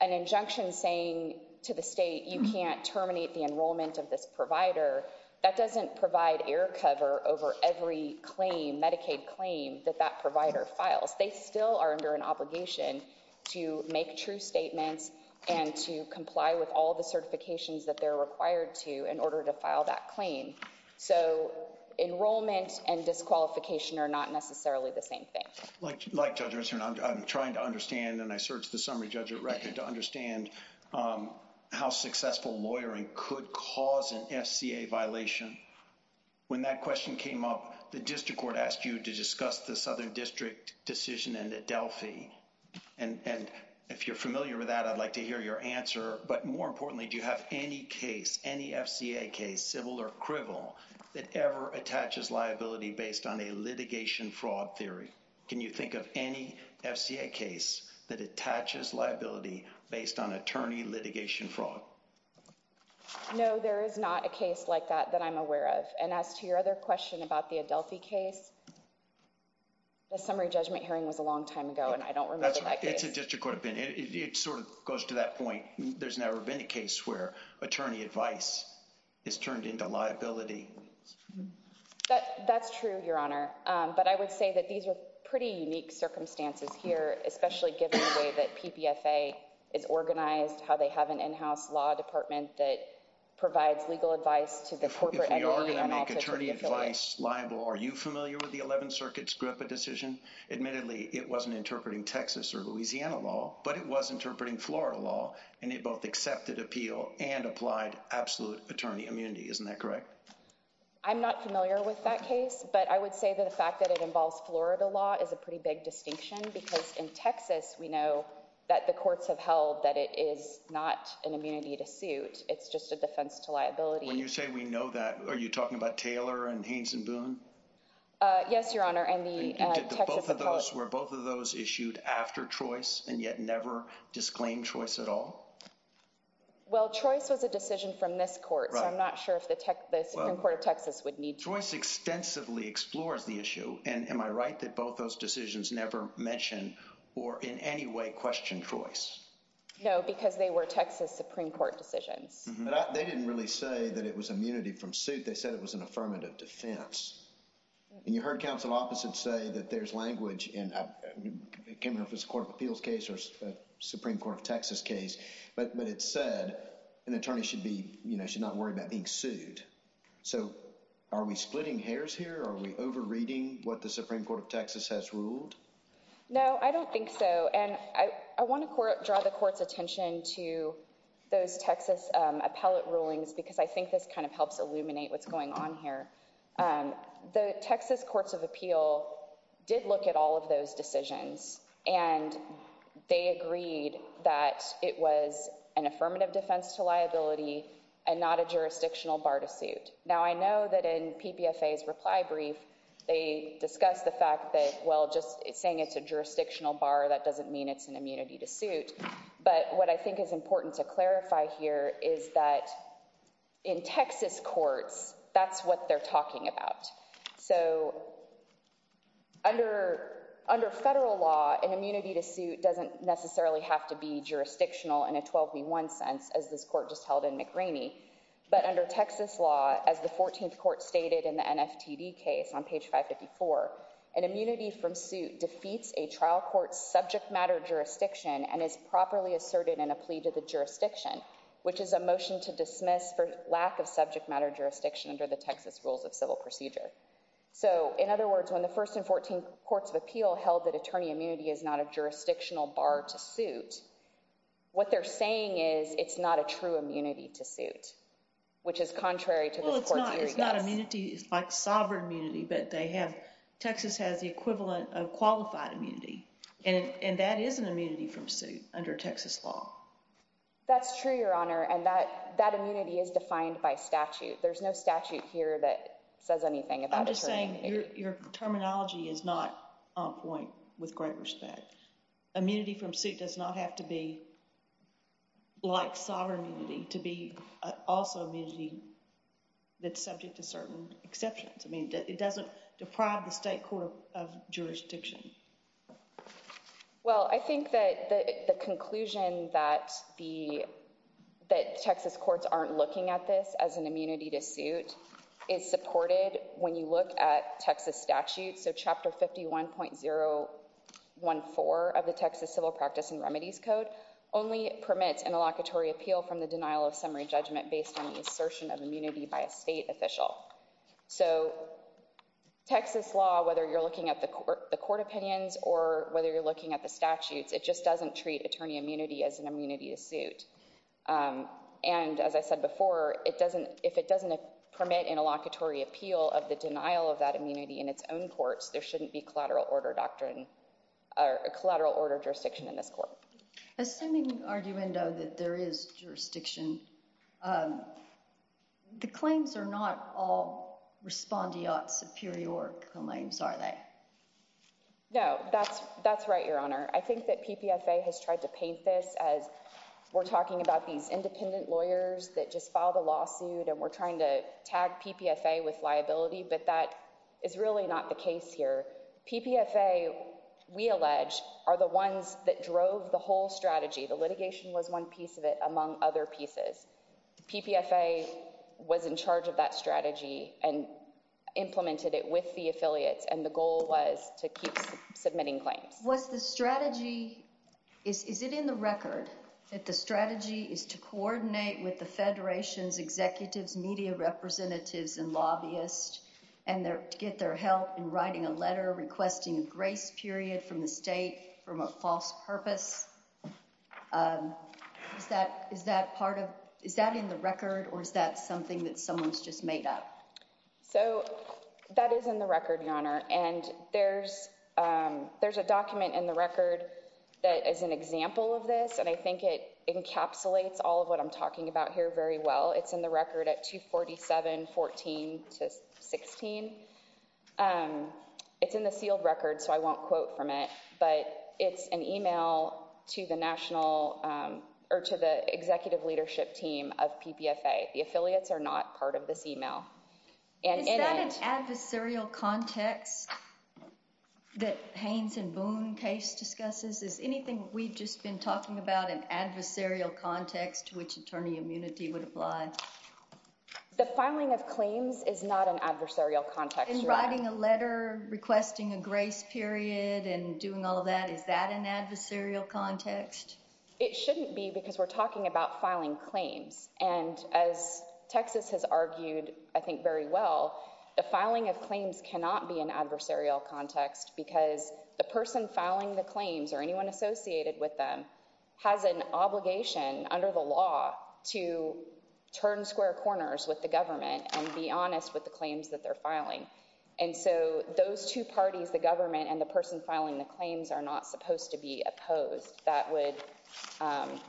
an injunction saying to the state you can't terminate the enrollment of this provider, that doesn't provide air cover over every claim, Medicaid claim, that that provider files. They still are under an obligation to make true statements and to comply with all the certifications that they're required to in order to file that claim. So enrollment and disqualification are not necessarily the same thing. Like Judge Ernst, I'm trying to understand and I searched the summary judge at record to understand how successful lawyering could cause an FCA violation. When that question came up, the district court asked you to discuss the Southern District decision in Adelphi. And if you're familiar with that, I'd like to hear your answer. But more importantly, do you have any case, any FCA case, civil or criminal, that ever attaches liability based on a litigation fraud theory? Can you think of any FCA case that attaches liability based on attorney litigation fraud? No, there is not a case like that that I'm aware of. And as to your other question about the Adelphi case, the summary judgment hearing was a long time ago and I don't remember that case. It's a district court opinion. It sort of goes to that point. There's never been a case where attorney advice is turned into liability. That's true, Your Honor. But I would say that these are pretty unique circumstances here, especially given the way that PPFA is organized, how they have an in-house law department that provides legal advice to the corporate. We are going to make attorney advice liable. Are you familiar with the 11th Circuit's GRIPPA decision? Admittedly, it wasn't interpreting Texas or Louisiana law, but it was interpreting Florida law, and it both accepted appeal and applied absolute attorney immunity. Isn't that correct? I'm not familiar with that case, but I would say that the fact that it involves Florida law is a pretty big distinction because in Texas we know that the courts have held that it is not an immunity to suit. It's just a defense to liability. When you say we know that, are you talking about Taylor and Haynes and Boone? Yes, Your Honor. Were both of those issued after Trois and yet never disclaimed Trois at all? Well, Trois was a decision from this court, so I'm not sure if the Supreme Court of Texas would need Trois. Trois extensively explores the issue, and am I right that both those decisions never mention or in any way question Trois? No, because they were Texas Supreme Court decisions. But they didn't really say that it was immunity from suit. They said it was an affirmative defense. And you heard counsel opposite say that there's language in – I can't remember if it's a court of appeals case or a Supreme Court of Texas case – but it said an attorney should not worry about being sued. So are we splitting hairs here? Are we overreading what the Supreme Court of Texas has ruled? No, I don't think so. And I want to draw the court's attention to those Texas appellate rulings because I think this kind of helps illuminate what's going on here. The Texas courts of appeal did look at all of those decisions, and they agreed that it was an affirmative defense to liability and not a jurisdictional bar to suit. Now, I know that in PPFA's reply brief they discussed the fact that, well, just saying it's a jurisdictional bar, that doesn't mean it's an immunity to suit. But what I think is important to clarify here is that in Texas courts, that's what they're talking about. So under federal law, an immunity to suit doesn't necessarily have to be jurisdictional in a 12v1 sense, as this court just held in McRaney. But under Texas law, as the 14th court stated in the NFTD case on page 554, an immunity from suit defeats a trial court's subject matter jurisdiction and is properly asserted in a plea to the jurisdiction, which is a motion to dismiss for lack of subject matter jurisdiction under the Texas rules of civil procedure. So, in other words, when the first and 14 courts of appeal held that attorney immunity is not a jurisdictional bar to suit, what they're saying is it's not a true immunity to suit, which is contrary to this court's eerie guess. Well, it's not immunity. It's like sovereign immunity, but Texas has the equivalent of qualified immunity, and that is an immunity from suit under Texas law. That's true, Your Honor, and that immunity is defined by statute. There's no statute here that says anything about attorney immunity. I'm just saying your terminology is not on point with great respect. Immunity from suit does not have to be like sovereign immunity to be also immunity that's subject to certain exceptions. I mean, it doesn't deprive the state court of jurisdiction. Well, I think that the conclusion that the that Texas courts aren't looking at this as an immunity to suit is supported when you look at Texas statute. So Chapter 51.014 of the Texas Civil Practice and Remedies Code only permits an allocatory appeal from the denial of summary judgment based on the assertion of immunity by a state official. So Texas law, whether you're looking at the court opinions or whether you're looking at the statutes, it just doesn't treat attorney immunity as an immunity to suit. And as I said before, it doesn't if it doesn't permit an allocatory appeal of the denial of that immunity in its own courts, there shouldn't be collateral order doctrine or collateral order jurisdiction in this court. Assuming argument that there is jurisdiction, the claims are not all respondeat superior claims, are they? No, that's that's right, Your Honor. I think that PPFA has tried to paint this as we're talking about these independent lawyers that just filed a lawsuit and we're trying to tag PPFA with liability. But that is really not the case here. PPFA, we allege, are the ones that drove the whole strategy. The litigation was one piece of it, among other pieces. PPFA was in charge of that strategy and implemented it with the affiliates. And the goal was to keep submitting claims. What's the strategy? Is it in the record that the strategy is to coordinate with the federation's executives, media representatives and lobbyists and get their help in writing a letter requesting a grace period from the state from a false purpose? Is that is that part of is that in the record or is that something that someone's just made up? So that is in the record, Your Honor, and there's there's a document in the record that is an example of this, and I think it encapsulates all of what I'm talking about here very well. It's in the record at two forty seven, 14 to 16. It's in the sealed record, so I won't quote from it, but it's an email to the national or to the executive leadership team of PPFA. The affiliates are not part of this email. Is that an adversarial context that Haynes and Boone case discusses? Is anything we've just been talking about an adversarial context to which attorney immunity would apply? The filing of claims is not an adversarial context. In writing a letter requesting a grace period and doing all of that, is that an adversarial context? It shouldn't be because we're talking about filing claims. And as Texas has argued, I think very well, the filing of claims cannot be an adversarial context because the person filing the claims or anyone associated with them has an obligation under the law to turn square corners with the government and be honest with the claims that they're filing. And so those two parties, the government and the person filing the claims, are not supposed to be opposed. That would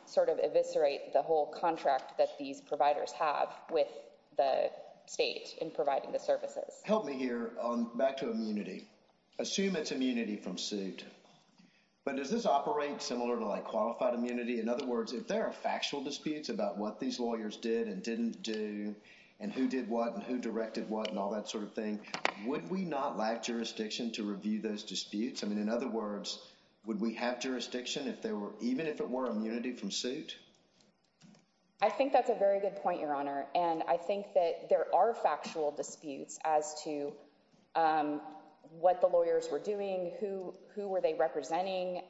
sort of eviscerate the whole contract that these providers have with the state in providing the services. Help me here on back to immunity. Assume it's immunity from suit, but does this operate similar to like qualified immunity? In other words, if there are factual disputes about what these lawyers did and didn't do and who did what and who directed what and all that sort of thing, would we not lack jurisdiction to review those disputes? I mean, in other words, would we have jurisdiction if there were even if it were immunity from suit? I think that's a very good point, Your Honor. And I think that there are factual disputes as to what the lawyers were doing, who who were they representing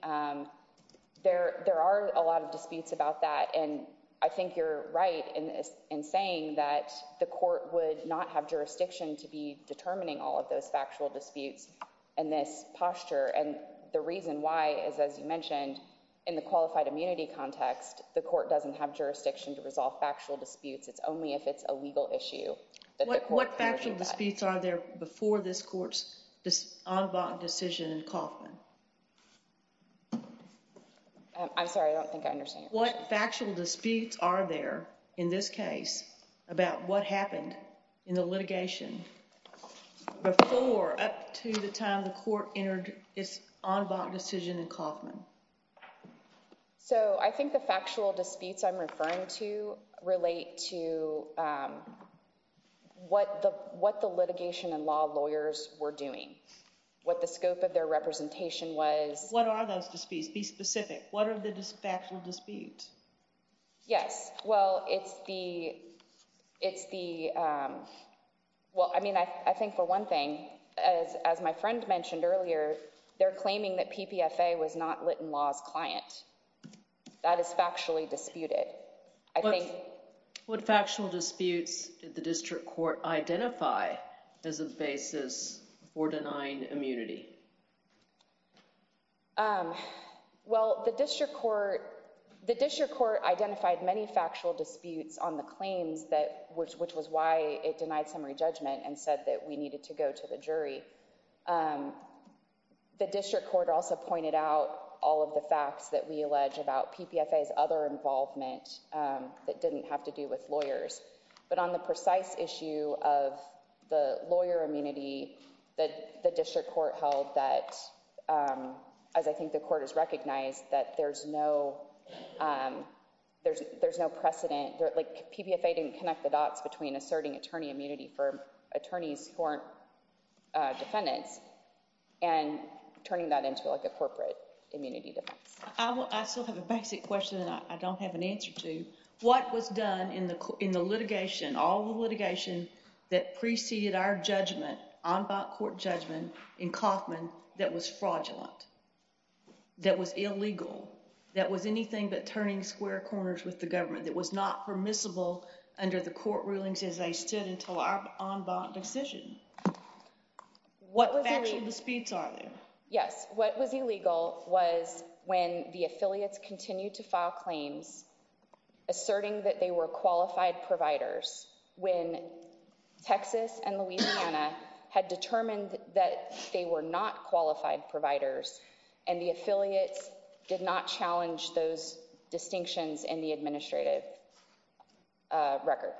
there. There are a lot of disputes about that. And I think you're right in saying that the court would not have jurisdiction to be determining all of those factual disputes and this posture. And the reason why is, as you mentioned, in the qualified immunity context, the court doesn't have jurisdiction to resolve factual disputes. It's only if it's a legal issue. What factual disputes are there before this court's decision in Kaufman? I'm sorry, I don't think I understand. What factual disputes are there in this case about what happened in the litigation before up to the time the court entered its en banc decision in Kaufman? So I think the factual disputes I'm referring to relate to what the what the litigation and law lawyers were doing, what the scope of their representation was. What are those disputes? Be specific. What are the factual disputes? Yes, well, it's the it's the well, I mean, I think for one thing, as my friend mentioned earlier, they're claiming that PPFA was not Litton Law's client. That is factually disputed. I think what factual disputes did the district court identify as a basis for denying immunity? Well, the district court, the district court identified many factual disputes on the claims that which which was why it denied summary judgment and said that we needed to go to the jury. The district court also pointed out all of the facts that we allege about PPFA's other involvement that didn't have to do with lawyers. But on the precise issue of the lawyer immunity that the district court held that, as I think the court has recognized that there's no there's there's no precedent. Like PPFA didn't connect the dots between asserting attorney immunity for attorneys who aren't defendants and turning that into like a corporate immunity defense. I still have a basic question that I don't have an answer to. What was done in the in the litigation, all the litigation that preceded our judgment on court judgment in Kauffman that was fraudulent, that was illegal, that was anything but turning square corners with the government that was not permissible under the court rulings as they stood until our decision. What was the speech on? Yes. What was illegal was when the affiliates continue to file claims asserting that they were qualified providers when Texas and Louisiana had determined that they were not qualified providers and the affiliates did not challenge those distinctions in the administrative record.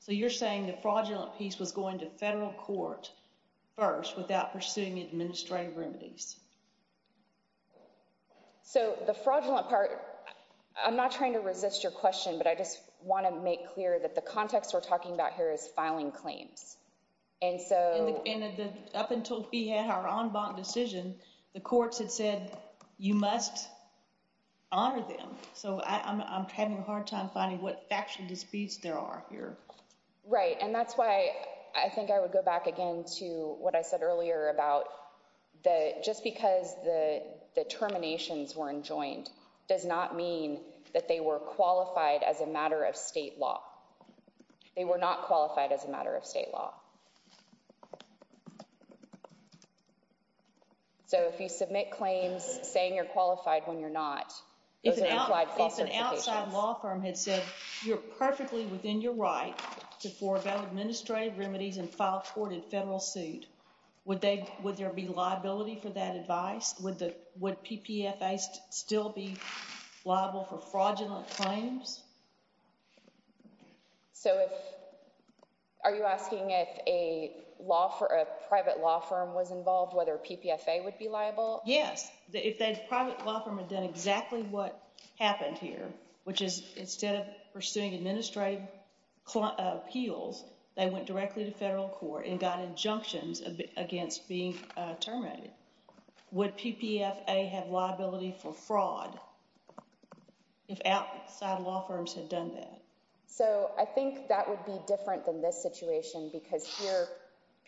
So you're saying the fraudulent piece was going to federal court first without pursuing administrative remedies. So the fraudulent part, I'm not trying to resist your question, but I just want to make clear that the context we're talking about here is filing claims. Right. And that's why I think I would go back again to what I said earlier about the just because the terminations were enjoined does not mean that they were qualified as a matter of state law. They were not qualified as a matter of state law. So if you submit claims saying you're qualified when you're not, those are implied false certifications. If an outside law firm had said you're perfectly within your right to forego administrative remedies and file court in federal suit, would there be liability for that advice? Would PPFA still be liable for fraudulent claims? So are you asking if a private law firm was involved whether PPFA would be liable? Yes. If that private law firm had done exactly what happened here, which is instead of pursuing administrative appeals, they went directly to federal court and got injunctions against being terminated, would PPFA have liability for fraud if outside law firms had done that? So I think that would be different than this situation because here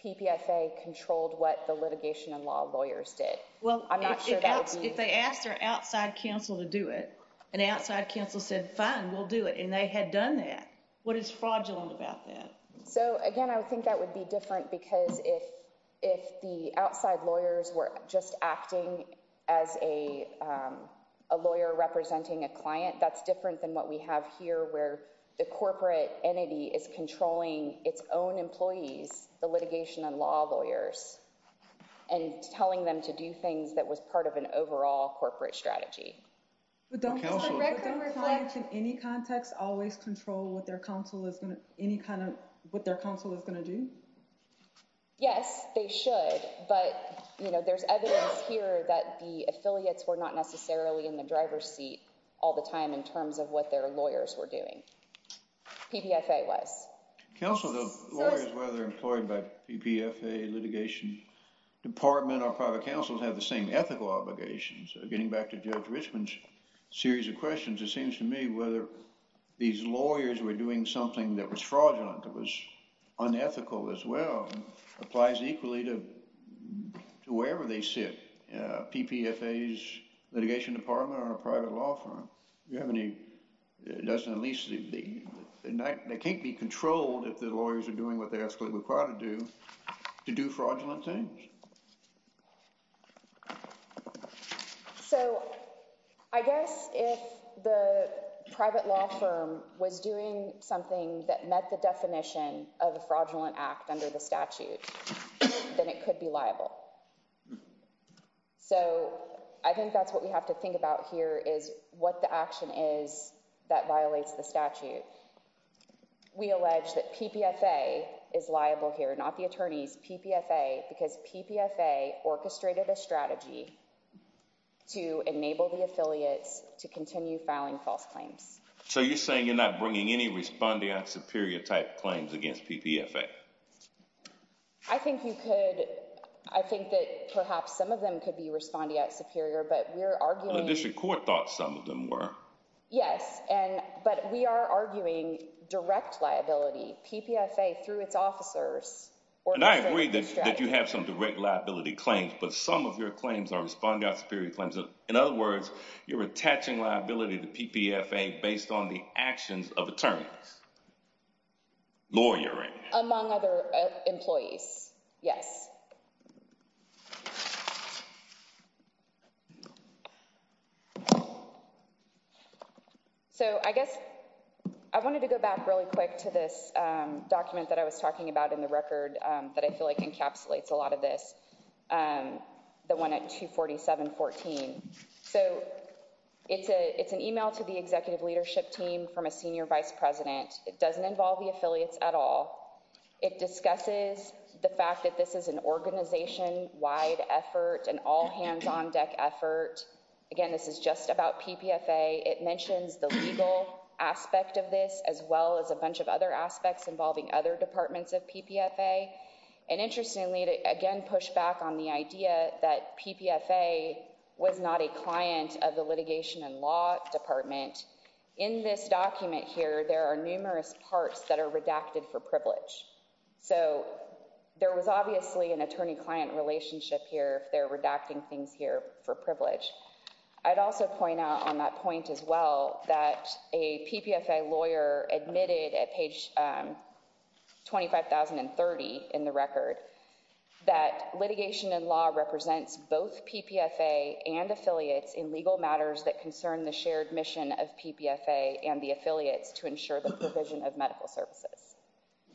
PPFA controlled what the litigation and law lawyers did. Well, if they asked their outside counsel to do it, and the outside counsel said fine, we'll do it, and they had done that, what is fraudulent about that? So again, I think that would be different because if the outside lawyers were just acting as a lawyer representing a client, that's different than what we have here where the corporate entity is controlling its own employees, the litigation and law lawyers, and telling them to do things that was part of an overall corporate strategy. But don't clients in any context always control what their counsel is going to do? Yes, they should. But there's evidence here that the affiliates were not necessarily in the driver's seat all the time in terms of what their lawyers were doing. PPFA was. Counsel, the lawyers, whether employed by PPFA, litigation department, or private counsel, have the same ethical obligations. Getting back to Judge Richman's series of questions, it seems to me whether these lawyers were doing something that was fraudulent, that was unethical as well, applies equally to wherever they sit. PPFA's litigation department or a private law firm, they can't be controlled if the lawyers are doing what they're actually required to do, to do fraudulent things. So I guess if the private law firm was doing something that met the definition of a fraudulent act under the statute, then it could be liable. So I think that's what we have to think about here is what the action is that violates the statute. We allege that PPFA is liable here, not the attorneys, PPFA, because PPFA orchestrated a strategy to enable the affiliates to continue filing false claims. So you're saying you're not bringing any respondeant superior type claims against PPFA? I think that perhaps some of them could be respondeant superior, but we're arguing… The district court thought some of them were. Yes, but we are arguing direct liability, PPFA through its officers… And I agree that you have some direct liability claims, but some of your claims are respondeant superior claims. In other words, you're attaching liability to PPFA based on the actions of attorneys, lawyering. Among other employees, yes. So I guess I wanted to go back really quick to this document that I was talking about in the record that I feel like encapsulates a lot of this, the one at 247.14. So it's an email to the executive leadership team from a senior vice president. It doesn't involve the affiliates at all. It discusses the fact that this is an organization-wide effort, an all-hands-on-deck effort. Again, this is just about PPFA. It mentions the legal aspect of this as well as a bunch of other aspects involving other departments of PPFA. And interestingly, it again pushed back on the idea that PPFA was not a client of the litigation and law department. In this document here, there are numerous parts that are redacted for privilege. So there was obviously an attorney-client relationship here if they're redacting things here for privilege. I'd also point out on that point as well that a PPFA lawyer admitted at page 25,030 in the record that litigation and law represents both PPFA and affiliates in legal matters that concern the shared mission of PPFA and the affiliates to ensure the provision of medical services.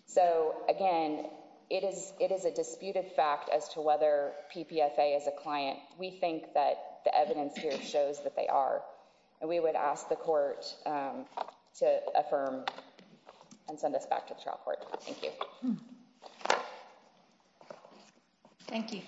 So again, it is a disputed fact as to whether PPFA is a client. We think that the evidence here shows that they are, and we would ask the court to affirm and send us back to the trial court. Thank you. Thank you.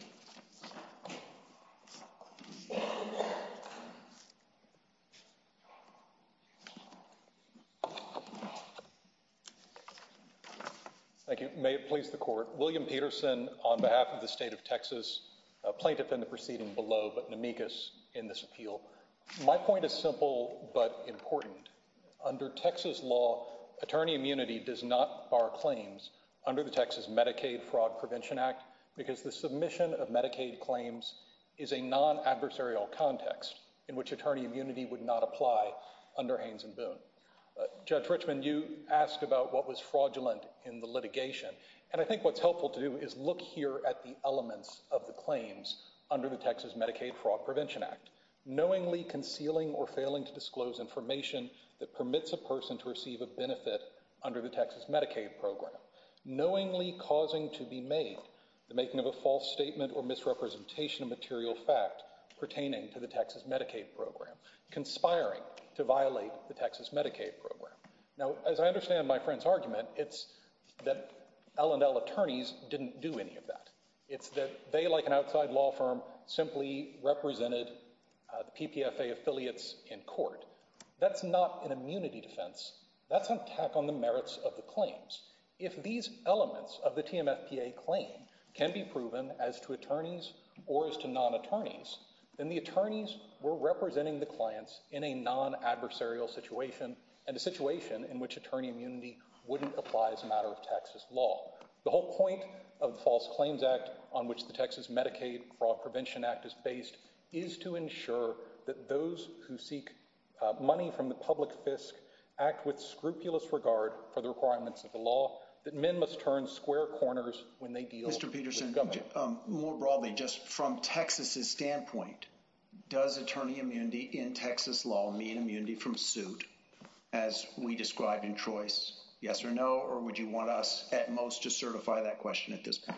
Thank you. May it please the court. William Peterson on behalf of the state of Texas, a plaintiff in the proceeding below but an amicus in this appeal. My point is simple but important. Under Texas law, attorney immunity does not bar claims under the Texas Medicaid Fraud Prevention Act because the submission of Medicaid claims is a non-adversarial context in which attorney immunity would not apply under Haynes and Boone. Judge Richmond, you asked about what was fraudulent in the litigation. And I think what's helpful to do is look here at the elements of the claims under the Texas Medicaid Fraud Prevention Act, knowingly concealing or failing to disclose information that permits a person to receive a benefit under the Texas Medicaid program, knowingly causing to be made the making of a false statement or misrepresentation of material fact pertaining to the Texas Medicaid program, conspiring to violate the Texas Medicaid program. Now, as I understand my friend's argument, it's that L&L attorneys didn't do any of that. It's that they, like an outside law firm, simply represented the PPFA affiliates in court. That's not an immunity defense. That's an attack on the merits of the claims. If these elements of the TMFPA claim can be proven as to attorneys or as to non-attorneys, then the attorneys were representing the clients in a non-adversarial situation and a situation in which attorney immunity wouldn't apply as a matter of Texas law. The whole point of the False Claims Act, on which the Texas Medicaid Fraud Prevention Act is based, is to ensure that those who seek money from the public fisc act with scrupulous regard for the requirements of the law, that men must turn square corners when they deal with the government. Judge, more broadly, just from Texas's standpoint, does attorney immunity in Texas law mean immunity from suit, as we described in Troy's yes or no? Or would you want us, at most, to certify that question at this point?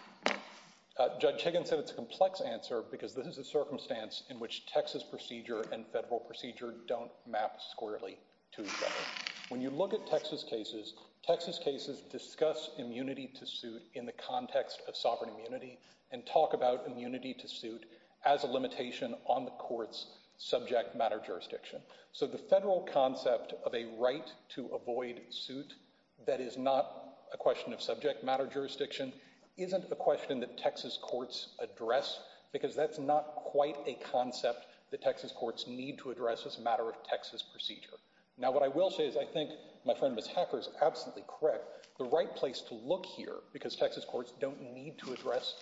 Judge Higgins said it's a complex answer because this is a circumstance in which Texas procedure and federal procedure don't map squarely to each other. When you look at Texas cases, Texas cases discuss immunity to suit in the context of sovereign immunity and talk about immunity to suit as a limitation on the court's subject matter jurisdiction. So the federal concept of a right to avoid suit that is not a question of subject matter jurisdiction isn't a question that Texas courts address because that's not quite a concept that Texas courts need to address as a matter of Texas procedure. Now, what I will say is I think my friend, Ms. Hacker, is absolutely correct. The right place to look here, because Texas courts don't need to address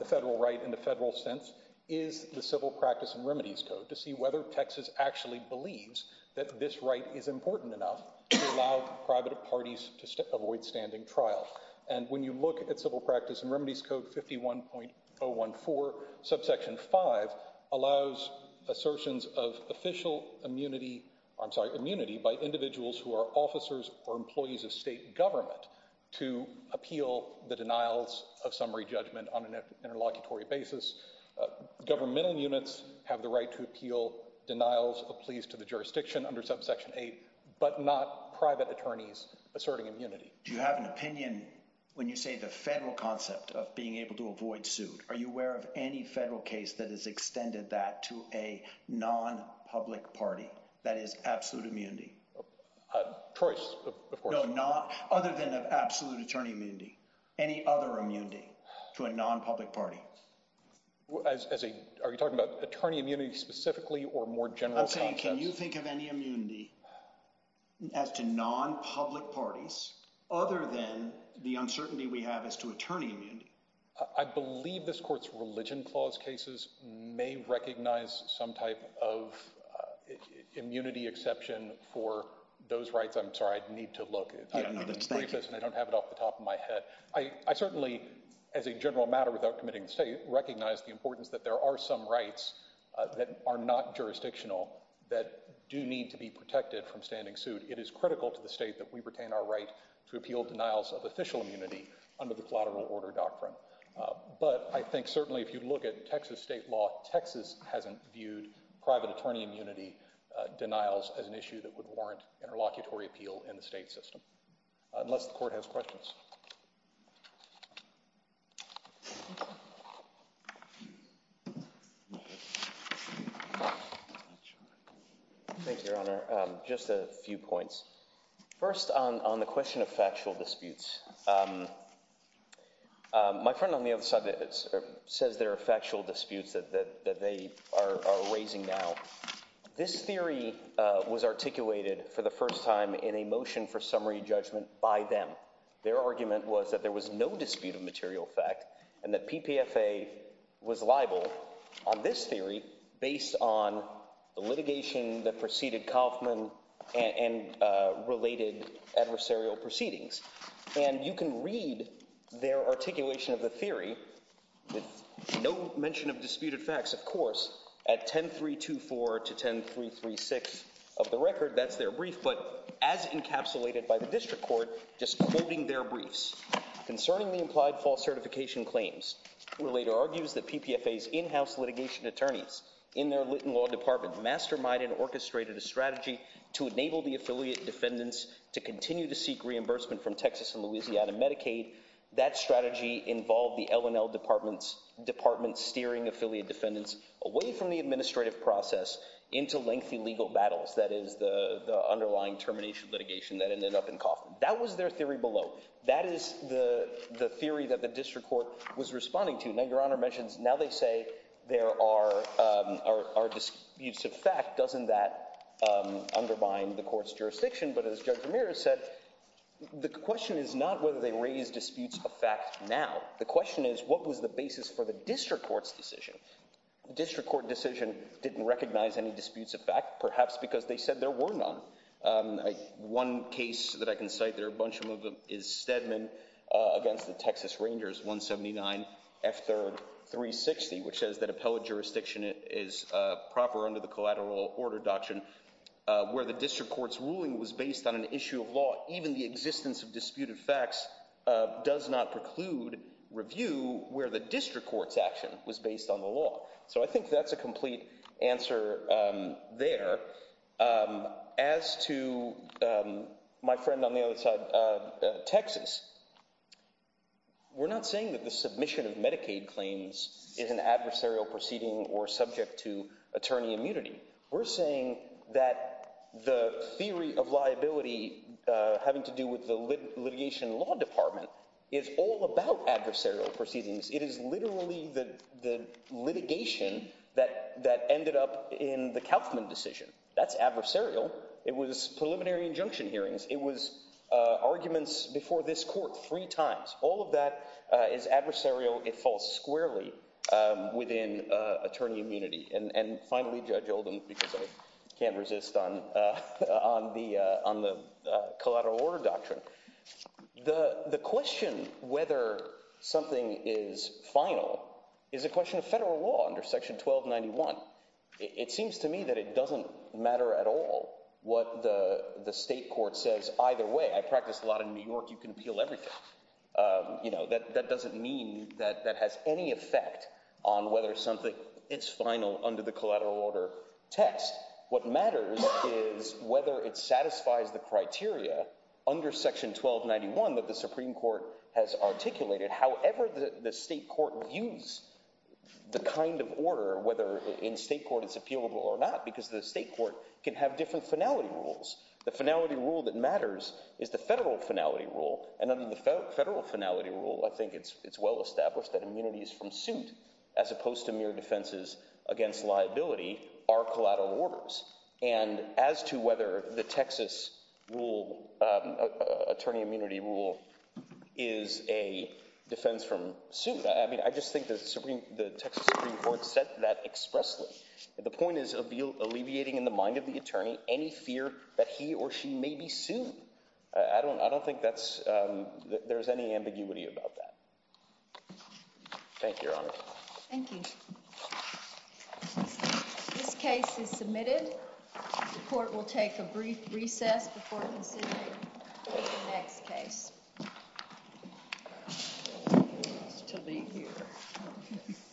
the federal right in the federal sense, is the Civil Practice and Remedies Code to see whether Texas actually believes that this right is important enough to allow private parties to avoid standing trial. And when you look at Civil Practice and Remedies Code 51.014, subsection 5 allows assertions of immunity by individuals who are officers or employees of state government to appeal the denials of summary judgment on an interlocutory basis. Governmental units have the right to appeal denials of pleas to the jurisdiction under subsection 8, but not private attorneys asserting immunity. Do you have an opinion when you say the federal concept of being able to avoid suit? Are you aware of any federal case that has extended that to a non-public party that is absolute immunity? Choice, of course. No, other than absolute attorney immunity. Any other immunity to a non-public party? Are you talking about attorney immunity specifically or more general concepts? Can you think of any immunity as to non-public parties other than the uncertainty we have as to attorney immunity? I believe this court's religion clause cases may recognize some type of immunity exception for those rights. I'm sorry. I need to look. I don't have it off the top of my head. I certainly, as a general matter without committing to state, recognize the importance that there are some rights that are not jurisdictional that do need to be protected from standing suit. It is critical to the state that we retain our right to appeal denials of official immunity under the collateral order doctrine. But I think certainly if you look at Texas state law, Texas hasn't viewed private attorney immunity denials as an issue that would warrant interlocutory appeal in the state system. Unless the court has questions. Thank you, Your Honor. Just a few points. First on the question of factual disputes. My friend on the other side says there are factual disputes that they are raising now. This theory was articulated for the first time in a motion for summary judgment by them. Their argument was that there was no dispute of material fact and that P.P.F.A. was liable on this theory based on the litigation that preceded Kaufman and related adversarial proceedings. And you can read their articulation of the theory with no mention of disputed facts, of course, at 10.324 to 10.336 of the record. That's their brief, but as encapsulated by the district court, just quoting their briefs concerning the implied false certification claims. Who later argues that P.P.F.A.'s in-house litigation attorneys in their Litton Law Department masterminded and orchestrated a strategy to enable the affiliate defendants to continue to seek reimbursement from Texas and Louisiana Medicaid. That strategy involved the L&L department steering affiliate defendants away from the administrative process into lengthy legal battles. That is the underlying termination litigation that ended up in Kaufman. That was their theory below. That is the theory that the district court was responding to. Now, Your Honor mentions now they say there are disputes of fact. Doesn't that undermine the court's jurisdiction? But as Judge Ramirez said, the question is not whether they raise disputes of fact now. The question is what was the basis for the district court's decision? The district court decision didn't recognize any disputes of fact, perhaps because they said there were none. One case that I can cite, there are a bunch of them, is Stedman against the Texas Rangers 179 F3rd 360, which says that appellate jurisdiction is proper under the collateral order doctrine where the district court's ruling was based on an issue of law. Even the existence of disputed facts does not preclude review where the district court's action was based on the law. So I think that's a complete answer there. As to my friend on the other side, Texas, we're not saying that the submission of Medicaid claims is an adversarial proceeding or subject to attorney immunity. We're saying that the theory of liability having to do with the litigation law department is all about adversarial proceedings. It is literally the litigation that ended up in the Kauffman decision. That's adversarial. It was preliminary injunction hearings. It was arguments before this court three times. All of that is adversarial. It falls squarely within attorney immunity. And finally, Judge Oldham, because I can't resist on the collateral order doctrine. The question whether something is final is a question of federal law under Section 1291. It seems to me that it doesn't matter at all what the state court says. Either way, I practice a lot in New York. You can appeal everything. That doesn't mean that that has any effect on whether something is final under the collateral order test. What matters is whether it satisfies the criteria under Section 1291 that the Supreme Court has articulated. However, the state court views the kind of order, whether in state court it's appealable or not, because the state court can have different finality rules. The finality rule that matters is the federal finality rule. And under the federal finality rule, I think it's well established that immunities from suit, as opposed to mere defenses against liability, are collateral orders. And as to whether the Texas rule, attorney immunity rule, is a defense from suit, I mean, I just think the Texas Supreme Court said that expressly. The point is alleviating in the mind of the attorney any fear that he or she may be sued. I don't think there's any ambiguity about that. Thank you, Your Honor. Thank you. This case is submitted. The court will take a brief recess before considering the next case. To be here.